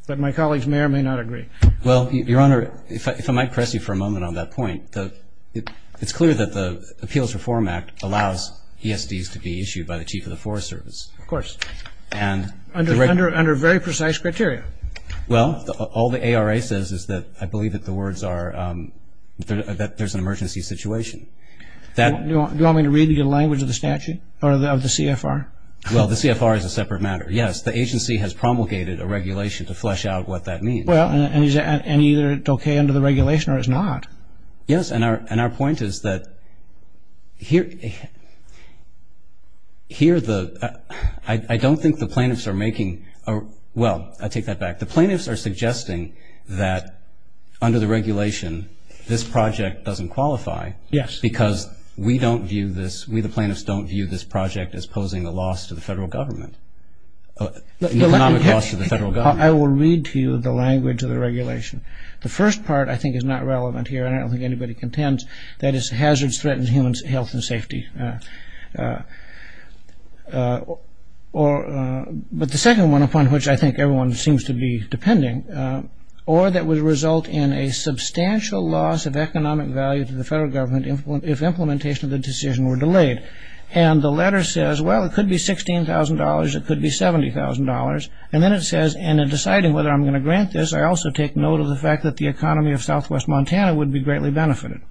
But my colleagues may or may not agree. Well, Your Honor, if I might press you for a moment on that point, it's clear that the Appeals Reform Act allows ESDs to be issued by the Chief of the Forest Service. Of course. And... Under very precise criteria. Well, all the ARA says is that I believe that the words are that there's an emergency situation. Do you want me to read you the language of the statute or of the CFR? Well, the CFR is a separate matter. Yes, the agency has promulgated a regulation to flesh out what that means. Well, and either it's okay under the regulation or it's not. Yes, and our point is that here the... I don't think the plaintiffs are making... Well, I take that back. The plaintiffs are suggesting that under the regulation, this project doesn't qualify. Yes. Because we don't view this... We, the plaintiffs, don't view this project as posing a loss to the federal government. Not a loss to the federal government. I will read to you the language of the regulation. The first part I think is not relevant here. I don't think anybody contends. That is, hazards threaten human health and safety. But the second one, upon which I think everyone seems to be depending, or that would result in a substantial loss of economic value to the federal government if implementation of the decision were delayed. And the letter says, well, it could be $16,000. It could be $70,000. And then it says, and in deciding whether I'm going to grant this, I also take note of the fact that the economy of southwest Montana would be greatly benefited.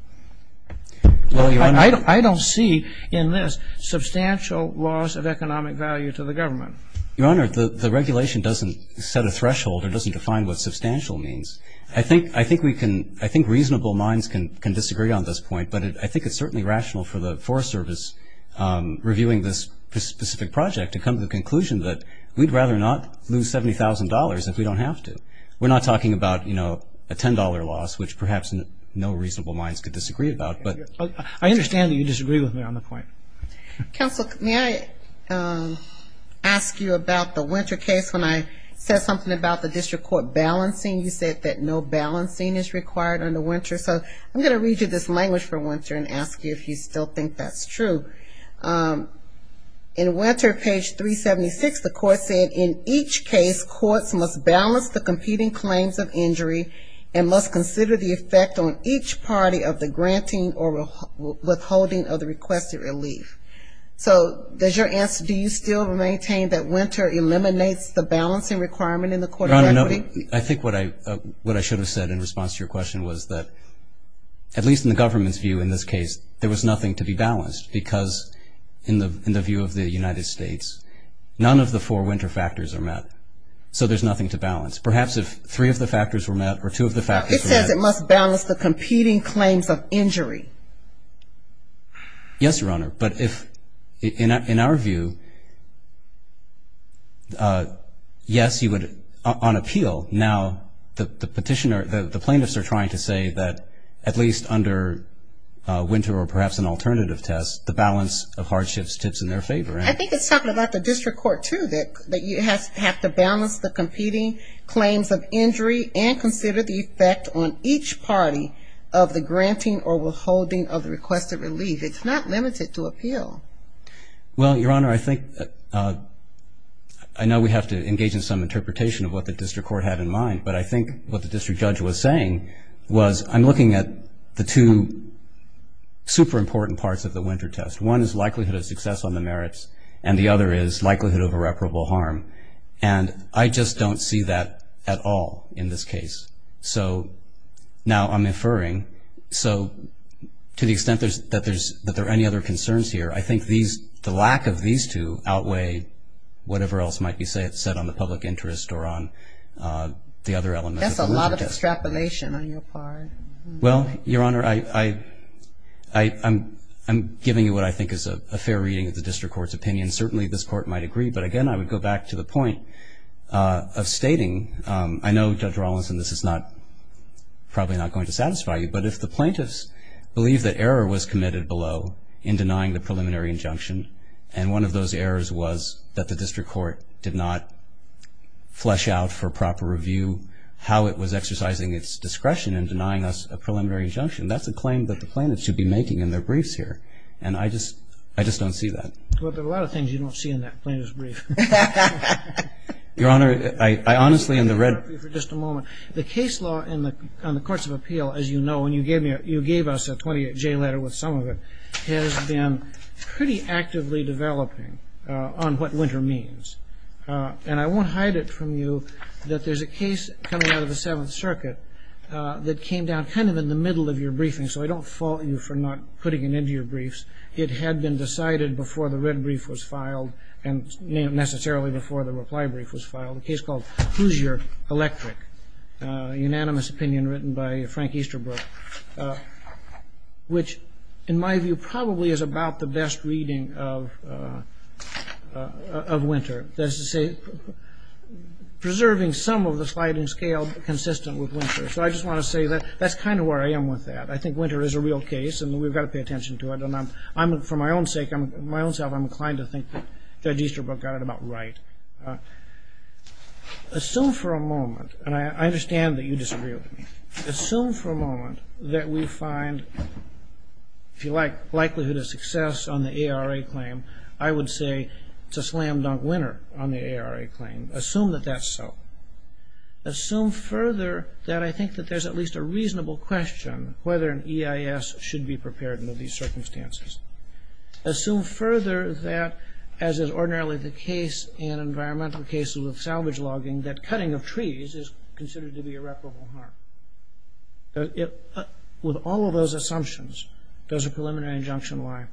I don't see in this substantial loss of economic value to the government. Your Honor, the regulation doesn't set a threshold. It doesn't define what substantial means. I think reasonable minds can disagree on this point, but I think it's certainly rational for the Forest Service reviewing this specific project to come to the conclusion that we'd rather not lose $70,000 if we don't have to. We're not talking about, you know, a $10 loss, which perhaps no reasonable minds could disagree about. But I understand that you disagree with me on the point. Counsel, may I ask you about the Winter case? When I said something about the district court balancing, you said that no balancing is required under Winter. So I'm going to read you this language for Winter and ask you if you still think that's true. In Winter, page 376, the court said, in each case courts must balance the competing claims of injury and must consider the effect on each party of the granting or withholding of the requested relief. So does your answer, do you still maintain that Winter eliminates the balancing requirement in the court? Your Honor, I think what I should have said in response to your question was that, at least in the government's view in this case, there was nothing to be balanced because, in the view of the United States, none of the four Winter factors are met. So there's nothing to balance. Perhaps if three of the factors were met or two of the factors were met. It says it must balance the competing claims of injury. Yes, Your Honor. But if, in our view, yes, you would, on appeal. Now, the petitioner, the plaintiffs are trying to say that, at least under Winter or perhaps an alternative test, the balance of hardship sits in their favor. I think it's talking about the district court, too, that you have to balance the competing claims of injury and consider the effect on each party of the granting or withholding of the requested relief. It's not limited to appeal. Well, Your Honor, I think I know we have to engage in some interpretation of what the district court had in mind, but I think what the district judge was saying was I'm looking at the two super important parts of the Winter test. One is likelihood of success on the merits, and the other is likelihood of irreparable harm. And I just don't see that at all in this case. So now I'm inferring. So to the extent that there are any other concerns here, I think the lack of these two outweigh whatever else might be said on the public interest or on the other elements. That's a lot of extrapolation on your part. Well, Your Honor, I'm giving you what I think is a fair reading of the district court's opinion. Certainly, this court might agree, but, again, I would go back to the point of stating, I know, Judge Rawlinson, this is probably not going to satisfy you, but if the plaintiffs believe that error was committed below in denying the preliminary injunction and one of those errors was that the district court did not flesh out for proper review how it was exercising its discretion in denying us a preliminary injunction, that's a claim that the plaintiffs should be making in their briefs here. And I just don't see that. Well, there are a lot of things you don't see in that plaintiff's brief. Your Honor, I honestly in the red... Just a moment. The case law in the courts of appeal, as you know, and you gave us a 28-J letter with some of it, has been pretty actively developing on what winter means. And I won't hide it from you that there's a case coming out of the Seventh Circuit that came down kind of in the middle of your briefing, so I don't fault you for not putting it into your briefs. It had been decided before the red brief was filed and necessarily before the reply brief was filed, a case called Hoosier Electric, a unanimous opinion written by Frank Easterbrook, which in my view probably is about the best reading of winter. That is to say preserving some of the sliding scale consistent with winter. So I just want to say that that's kind of where I am with that. I think winter is a real case and we've got to pay attention to it. And for my own sake, I'm inclined to think that Easterbrook got it about right. Assume for a moment, and I understand that you disagree with me, assume for a moment that we find, if you like, likelihood of success on the ARA claim, I would say it's a slam dunk winter on the ARA claim. Assume that that's so. Assume further that I think that there's at least a reasonable question whether an EIS should be prepared under these circumstances. Assume further that, as is ordinarily the case in environmental cases with salvage logging, that cutting of trees is considered to be irreparable harm. With all of those assumptions, does a preliminary injunction lie?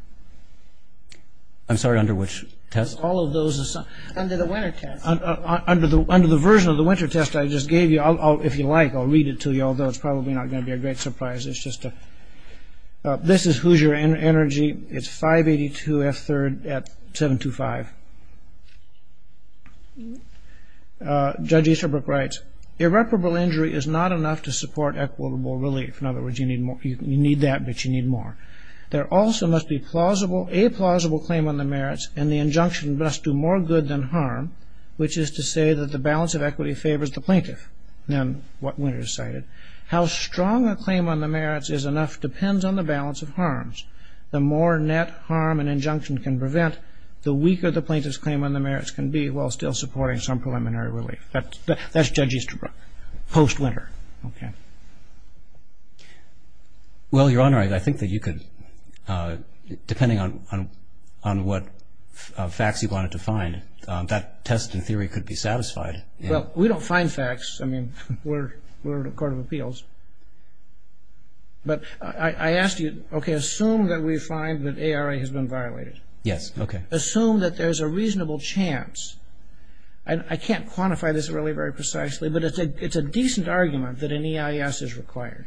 I'm sorry, under which test? All of those assumptions. Under the winter test. Under the version of the winter test I just gave you, if you like, I'll read it to you, although it's probably not going to be a great surprise. This is Hoosier Energy. It's 582F3rd at 725. Judge Easterbrook writes, irreparable injury is not enough to support equitable relief. In other words, you need that, but you need more. There also must be a plausible claim on the merits, and the injunction must do more good than harm, which is to say that the balance of equity favors the plaintiff. How strong a claim on the merits is enough depends on the balance of harms. The more net harm an injunction can prevent, the weaker the plaintiff's claim on the merits can be while still supporting some preliminary relief. That's Judge Easterbrook, post-winter. Well, Your Honor, I think that you could, depending on what facts you wanted to find, that testing theory could be satisfied. Well, we don't find facts. I mean, we're in a court of appeals. But I asked you, okay, assume that we find that ARA has been violated. Yes, okay. Assume that there's a reasonable chance. I can't quantify this really very precisely, but it's a decent argument that an EIS is required.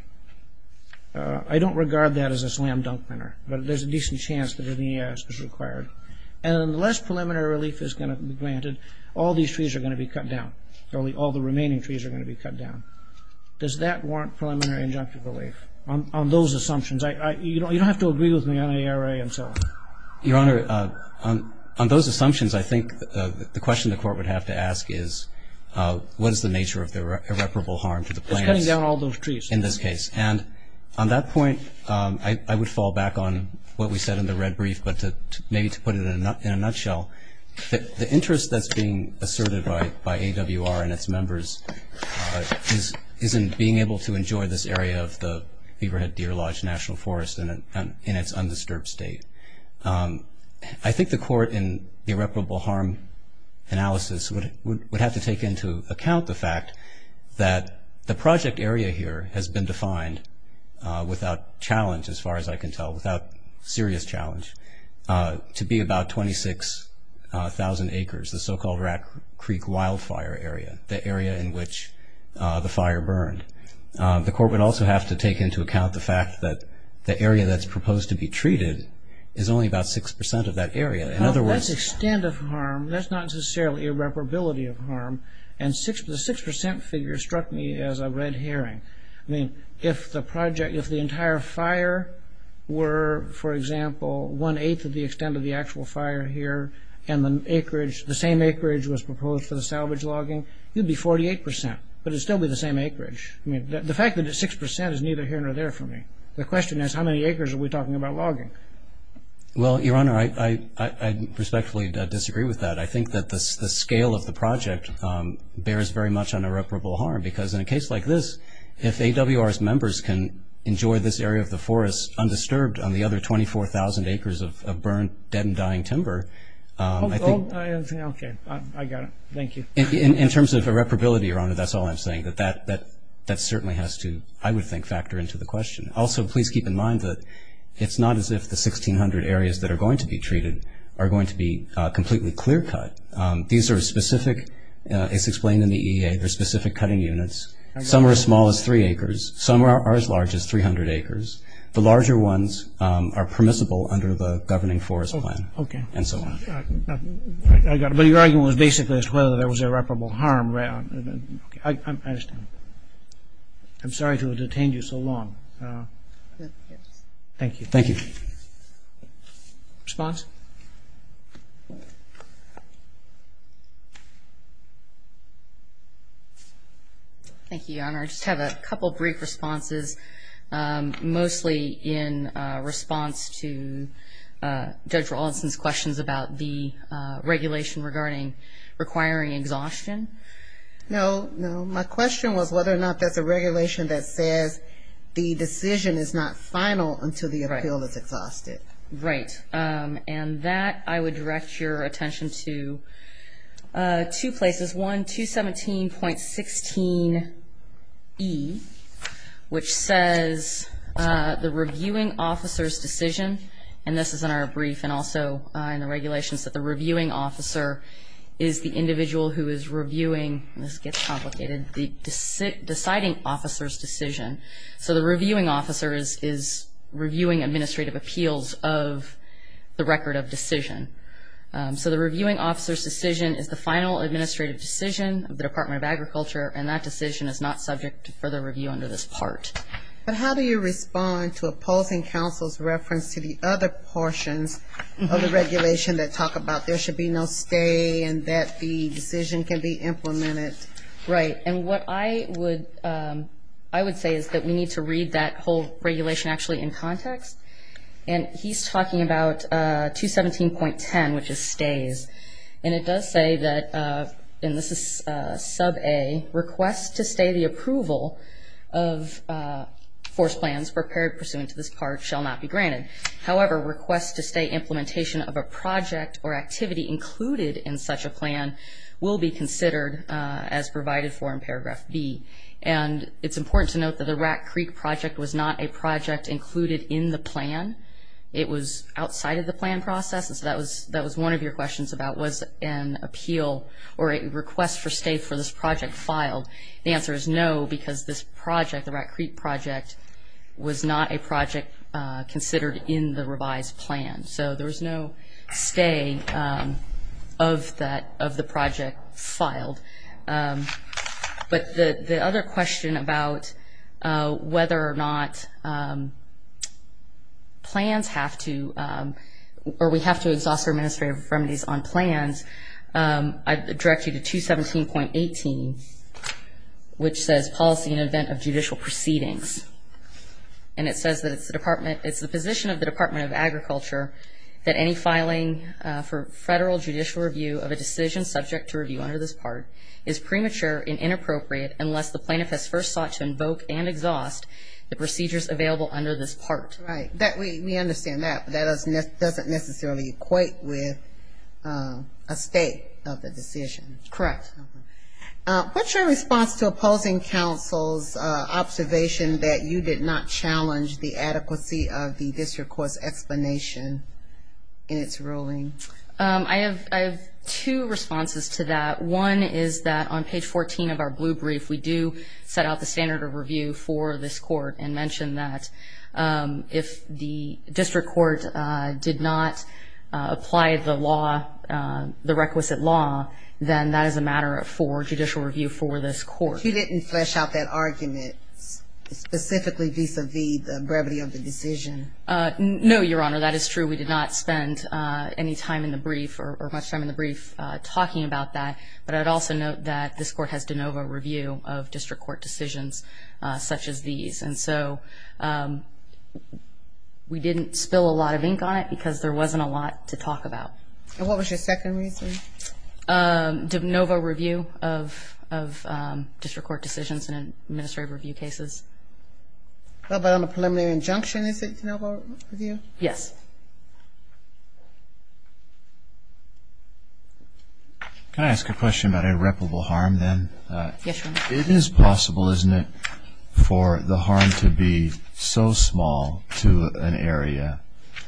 I don't regard that as a slam-dunk winner, but there's a decent chance that an EIS is required. And unless preliminary relief is granted, all these trees are going to be cut down. All the remaining trees are going to be cut down. Does that warrant preliminary injunctive relief on those assumptions? You don't have to agree with me on ARA and so on. Your Honor, on those assumptions, I think the question the Court would have to ask is, what is the nature of irreparable harm to the plaintiff in this case? Cutting down all those trees. In this case. And on that point, I would fall back on what we said in the red brief, but maybe to put it in a nutshell, the interest that's being asserted by AWR and its members is in being able to enjoy this area of the Beaverhead Deer Lodge National Forest in its undisturbed state. I think the Court in irreparable harm analysis would have to take into account the fact that the project area here has been defined without challenge, as far as I can tell, without serious challenge, to be about 26,000 acres, the so-called Rat Creek wildfire area, the area in which the fire burned. The Court would also have to take into account the fact that the area that's proposed to be treated is only about 6% of that area. In other words... That's extent of harm. That's not necessarily irreparability of harm. And the 6% figure struck me as a red herring. I mean, if the project, if the entire fire were, for example, one-eighth of the extent of the actual fire here and the acreage, the same acreage was proposed for the salvage logging, it would be 48%, but it's still the same acreage. I mean, the fact that it's 6% is neither here nor there for me. The question is, how many acres are we talking about logging? Well, Your Honor, I respectfully disagree with that. I think that the scale of the project bears very much on irreparable harm because in a case like this, if AWR's members can enjoy this area of the forest undisturbed on the other 24,000 acres of burnt, dead and dying timber, I think... Okay, I got it. Thank you. In terms of irreparability, Your Honor, that's all I'm saying. That certainly has to, I would think, factor into the question. Also, please keep in mind that it's not as if the 1,600 areas that are going to be treated are going to be completely clear-cut. These are specific, as explained in the EEA, they're specific cutting units. Some are as small as three acres. Some are as large as 300 acres. The larger ones are permissible under the governing forest plan. Okay. But your argument was basically as to whether there was irreparable harm. I'm sorry to have detained you so long. Thank you. Thank you. Response? Thank you, Your Honor. I just have a couple of brief responses, mostly in response to Judge Raulston's questions about the regulation regarding requiring exhaustion. No, no. My question was whether or not there's a regulation that says the decision is not final until the appeal is exhausted. Right. And that I would direct your attention to two places. There's one, 217.16E, which says the reviewing officer's decision, and this is in our brief and also in the regulations, that the reviewing officer is the individual who is reviewing, and this gets complicated, the deciding officer's decision. So the reviewing officer is reviewing administrative appeals of the record of decision. So the reviewing officer's decision is the final administrative decision of the Department of Agriculture, and that decision is not subject to further review under this part. But how do you respond to opposing counsel's reference to the other portions of the regulation that talk about there should be no stay and that the decision can be implemented? Right. And what I would say is that we need to read that whole regulation actually in context. And he's talking about 217.10, which is stays. And it does say that, and this is sub-A, requests to stay the approval of force plans prepared pursuant to this part shall not be granted. However, requests to stay implementation of a project or activity included in such a plan will be considered as provided for in paragraph B. And it's important to note that the Rat Creek project was not a project included in the plan. It was outside of the plan process. That was one of your questions about was an appeal or a request for stay for this project filed. The answer is no, because this project, the Rat Creek project, was not a project considered in the revised plan. So there was no stay of the project filed. But the other question about whether or not plans have to, or we have to exhaust the administrative remedies on plans, I direct you to 217.18, which says policy in the event of judicial proceedings. And it says that it's the Department, it's the position of the Department of Agriculture that any filing for federal judicial review of a decision subject to review under this part is premature and inappropriate unless the plaintiff has first thought to invoke and exhaust the procedures available under this part. Right. We understand that, but that doesn't necessarily equate with a state of the decision. Correct. What's your response to opposing counsel's observation that you did not challenge the adequacy of the district court's explanation in its ruling? I have two responses to that. One is that on page 14 of our blue brief, we do set out the standard of review for this court and mention that if the district court did not apply the law, the requisite law, then that is a matter for judicial review for this court. She didn't flesh out that argument specifically vis-a-vis the brevity of the decision. No, Your Honor, that is true. We did not spend any time in the brief or much time in the brief talking about that, but I would also note that this court has de novo review of district court decisions such as these. And so we didn't spill a lot of ink on it because there wasn't a lot to talk about. And what was your second reason? De novo review of district court decisions and administrative review cases. About a preliminary injunction, is it de novo review? Yes. Can I ask a question about irreparable harm then? Yes, Your Honor. It is possible, isn't it, for the harm to be so small to an area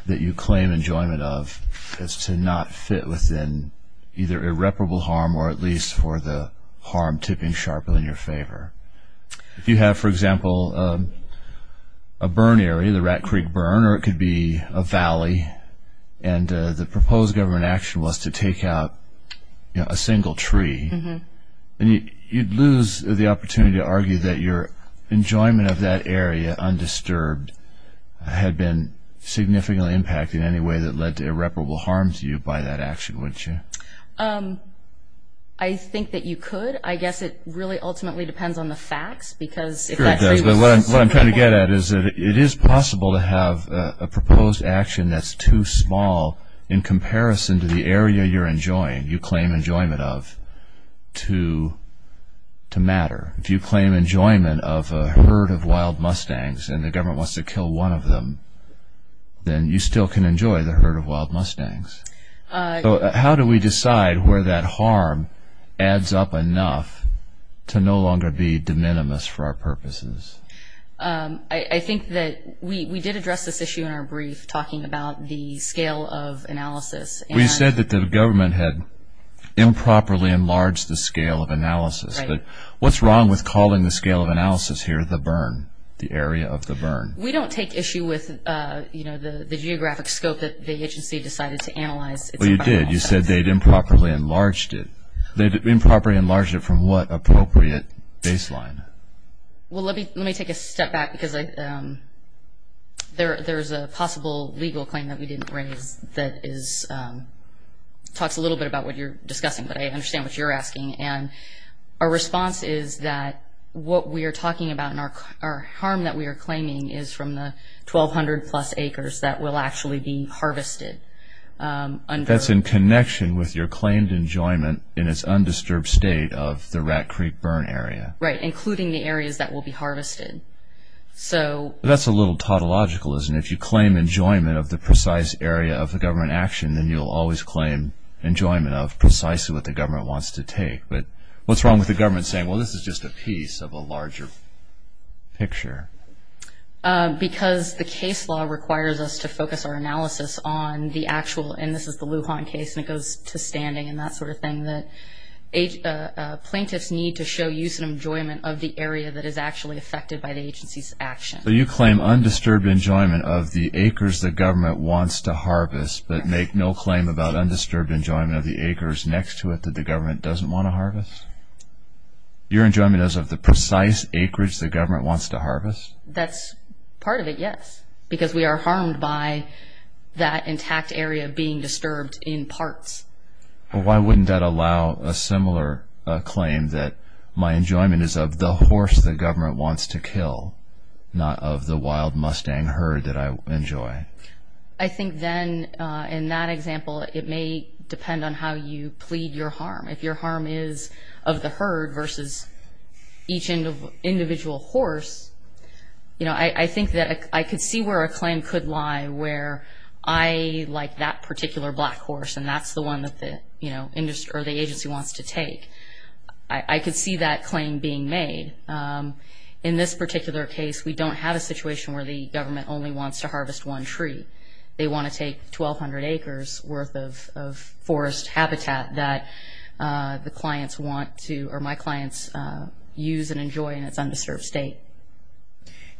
that you claim enjoyment of as to not fit within either irreparable harm or at least for the harm tipping sharper in your favor. If you have, for example, a burn area, the Rat Creek Burn, or it could be a valley, and the proposed government action was to take out a single tree, you'd lose the opportunity to argue that your enjoyment of that area undisturbed had been significantly impacted in any way that led to irreparable harm to you by that action, wouldn't you? I think that you could. I guess it really ultimately depends on the facts. What I'm trying to get at is that it is possible to have a proposed action that's too small in comparison to the area you're enjoying, you claim enjoyment of, to matter. If you claim enjoyment of a herd of wild mustangs and the government wants to kill one of them, then you still can enjoy the herd of wild mustangs. How do we decide where that harm adds up enough to no longer be de minimis for our purposes? I think that we did address this issue in our brief talking about the scale of analysis. We said that the government had improperly enlarged the scale of analysis, but what's wrong with calling the scale of analysis here the burn, the area of the burn? We don't take issue with the geographic scope that the agency decided to analyze. Well, you did. You said they'd improperly enlarged it. They'd improperly enlarged it from what appropriate baseline? Well, let me take a step back because there's a possible legal claim that we didn't raise that talks a little bit about what you're discussing, but I understand what you're asking. Our response is that what we are talking about and our harm that we are claiming is from the 1,200-plus acres that will actually be harvested. That's in connection with your claimed enjoyment in its undisturbed state of the Rat Creek burn area. Right, including the areas that will be harvested. That's a little tautologicalism. If you claim enjoyment of the precise area of the government action, then you'll always claim enjoyment of precisely what the government wants to take. But what's wrong with the government saying, well, this is just a piece of a larger picture? Because the case law requires us to focus our analysis on the actual, and this is the Lujan case and it goes to standing and that sort of thing, that plaintiffs need to show use and enjoyment of the area that is actually affected by the agency's action. So you claim undisturbed enjoyment of the acres the government wants to harvest but make no claim about undisturbed enjoyment of the acres next to it that the government doesn't want to harvest? Your enjoyment is of the precise acreage the government wants to harvest? That's part of it, yes. Because we are harmed by that intact area being disturbed in parts. Why wouldn't that allow a similar claim that my enjoyment is of the horse the government wants to kill, not of the wild Mustang herd that I enjoy? I think then, in that example, it may depend on how you plead your harm. If your harm is of the herd versus each individual horse, I think that I could see where a claim could lie where I like that particular black horse and that's the one that the agency wants to take. I could see that claim being made. In this particular case, we don't have a situation where the government only wants to harvest one tree. They want to take 1,200 acres worth of forest habitat that the clients want to or my clients use and enjoy in its undisturbed state.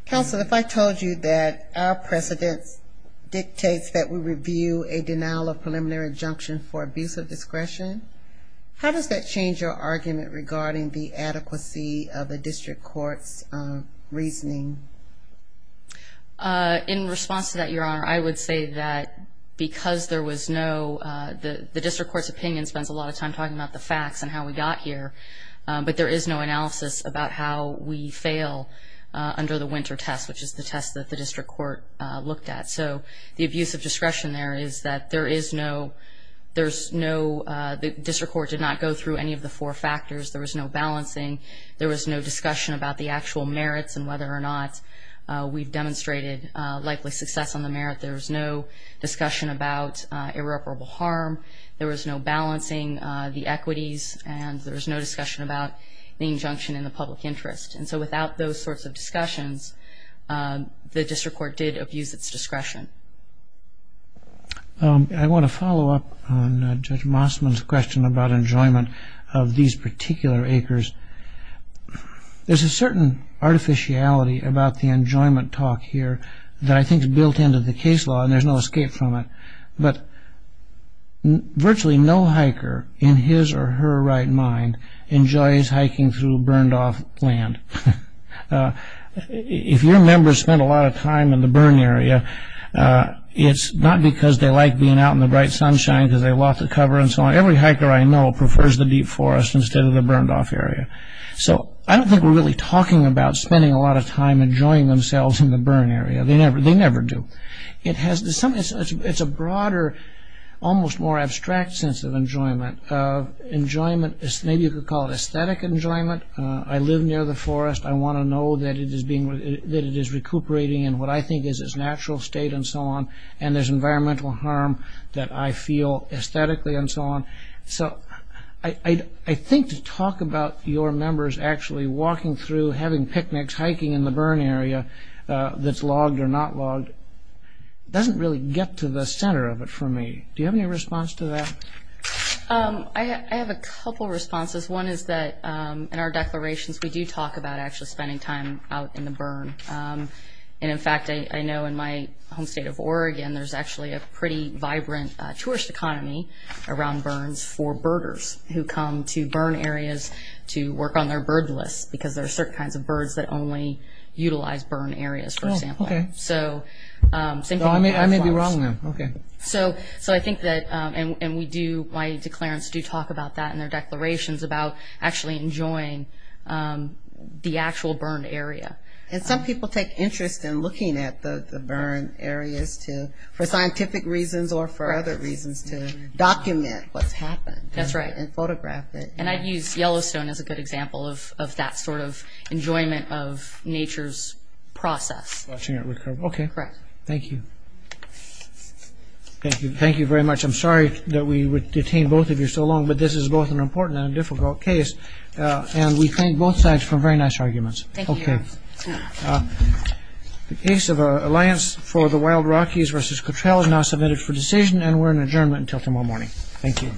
Counsel, if I told you that our precedent dictates that we review a denial of preliminary injunction for abuse of discretion, how does that change your argument regarding the adequacy of the district court's reasoning? In response to that, Your Honor, I would say that because there was no – the district court's opinion spent a lot of time talking about the facts and how we got here, but there is no analysis about how we fail under the winter test, which is the test that the district court looked at. So the abuse of discretion there is that there is no – there's no – the district court did not go through any of the four factors. There was no balancing. There was no discussion about the actual merits and whether or not we demonstrated likely success on the merit. There was no discussion about irreparable harm. There was no balancing the equities and there was no discussion about the injunction in the public interest. And so without those sorts of discussions, the district court did abuse its discretion. I want to follow up on Judge Mossman's question about enjoyment of these particular acres. There's a certain artificiality about the enjoyment talk here that I think is built into the case law and there's no escape from it. But virtually no hiker in his or her right mind enjoys hiking through burned-off land. If your members spend a lot of time in the burn area, it's not because they like being out in the bright sunshine because they have lots of cover and so on. Every hiker I know prefers the deep forest instead of the burned-off area. So I don't think we're really talking about spending a lot of time enjoying themselves in the burn area. They never do. It's a broader, almost more abstract sense of enjoyment. Maybe you could call it aesthetic enjoyment. I live near the forest. I want to know that it is recuperating in what I think is its natural state and so on. And there's environmental harm that I feel aesthetically and so on. So I think to talk about your members actually walking through, having picnics, hiking in the burn area that's logged or not logged doesn't really get to the center of it for me. Do you have any response to that? I have a couple responses. One is that in our declarations, we do talk about actually spending time out in the burn. And in fact, I know in my home state of Oregon, there's actually a pretty vibrant tourist economy around burns for birders who come to burn areas to work on their bird list because there are certain kinds of birds that only utilize burn areas, for example. Oh, okay. So I may be wrong then. Okay. So I think that, and we do, my declarants do talk about that in their declarations, about actually enjoying the actual burn area. And some people take interest in looking at the burn areas for scientific reasons or for other reasons to document what's happened. That's right. And photograph it. And I'd use Yellowstone as a good example of that sort of enjoyment of nature's process. Okay. Thank you. Thank you. Thank you very much. I'm sorry that we would detain both of you so long, but this is both an important and difficult case. And we thank both sides for very nice arguments. Okay. The case of our alliance for the Wild Rockies versus Cottrell is now submitted for decision and we're in adjournment until tomorrow morning. Thank you.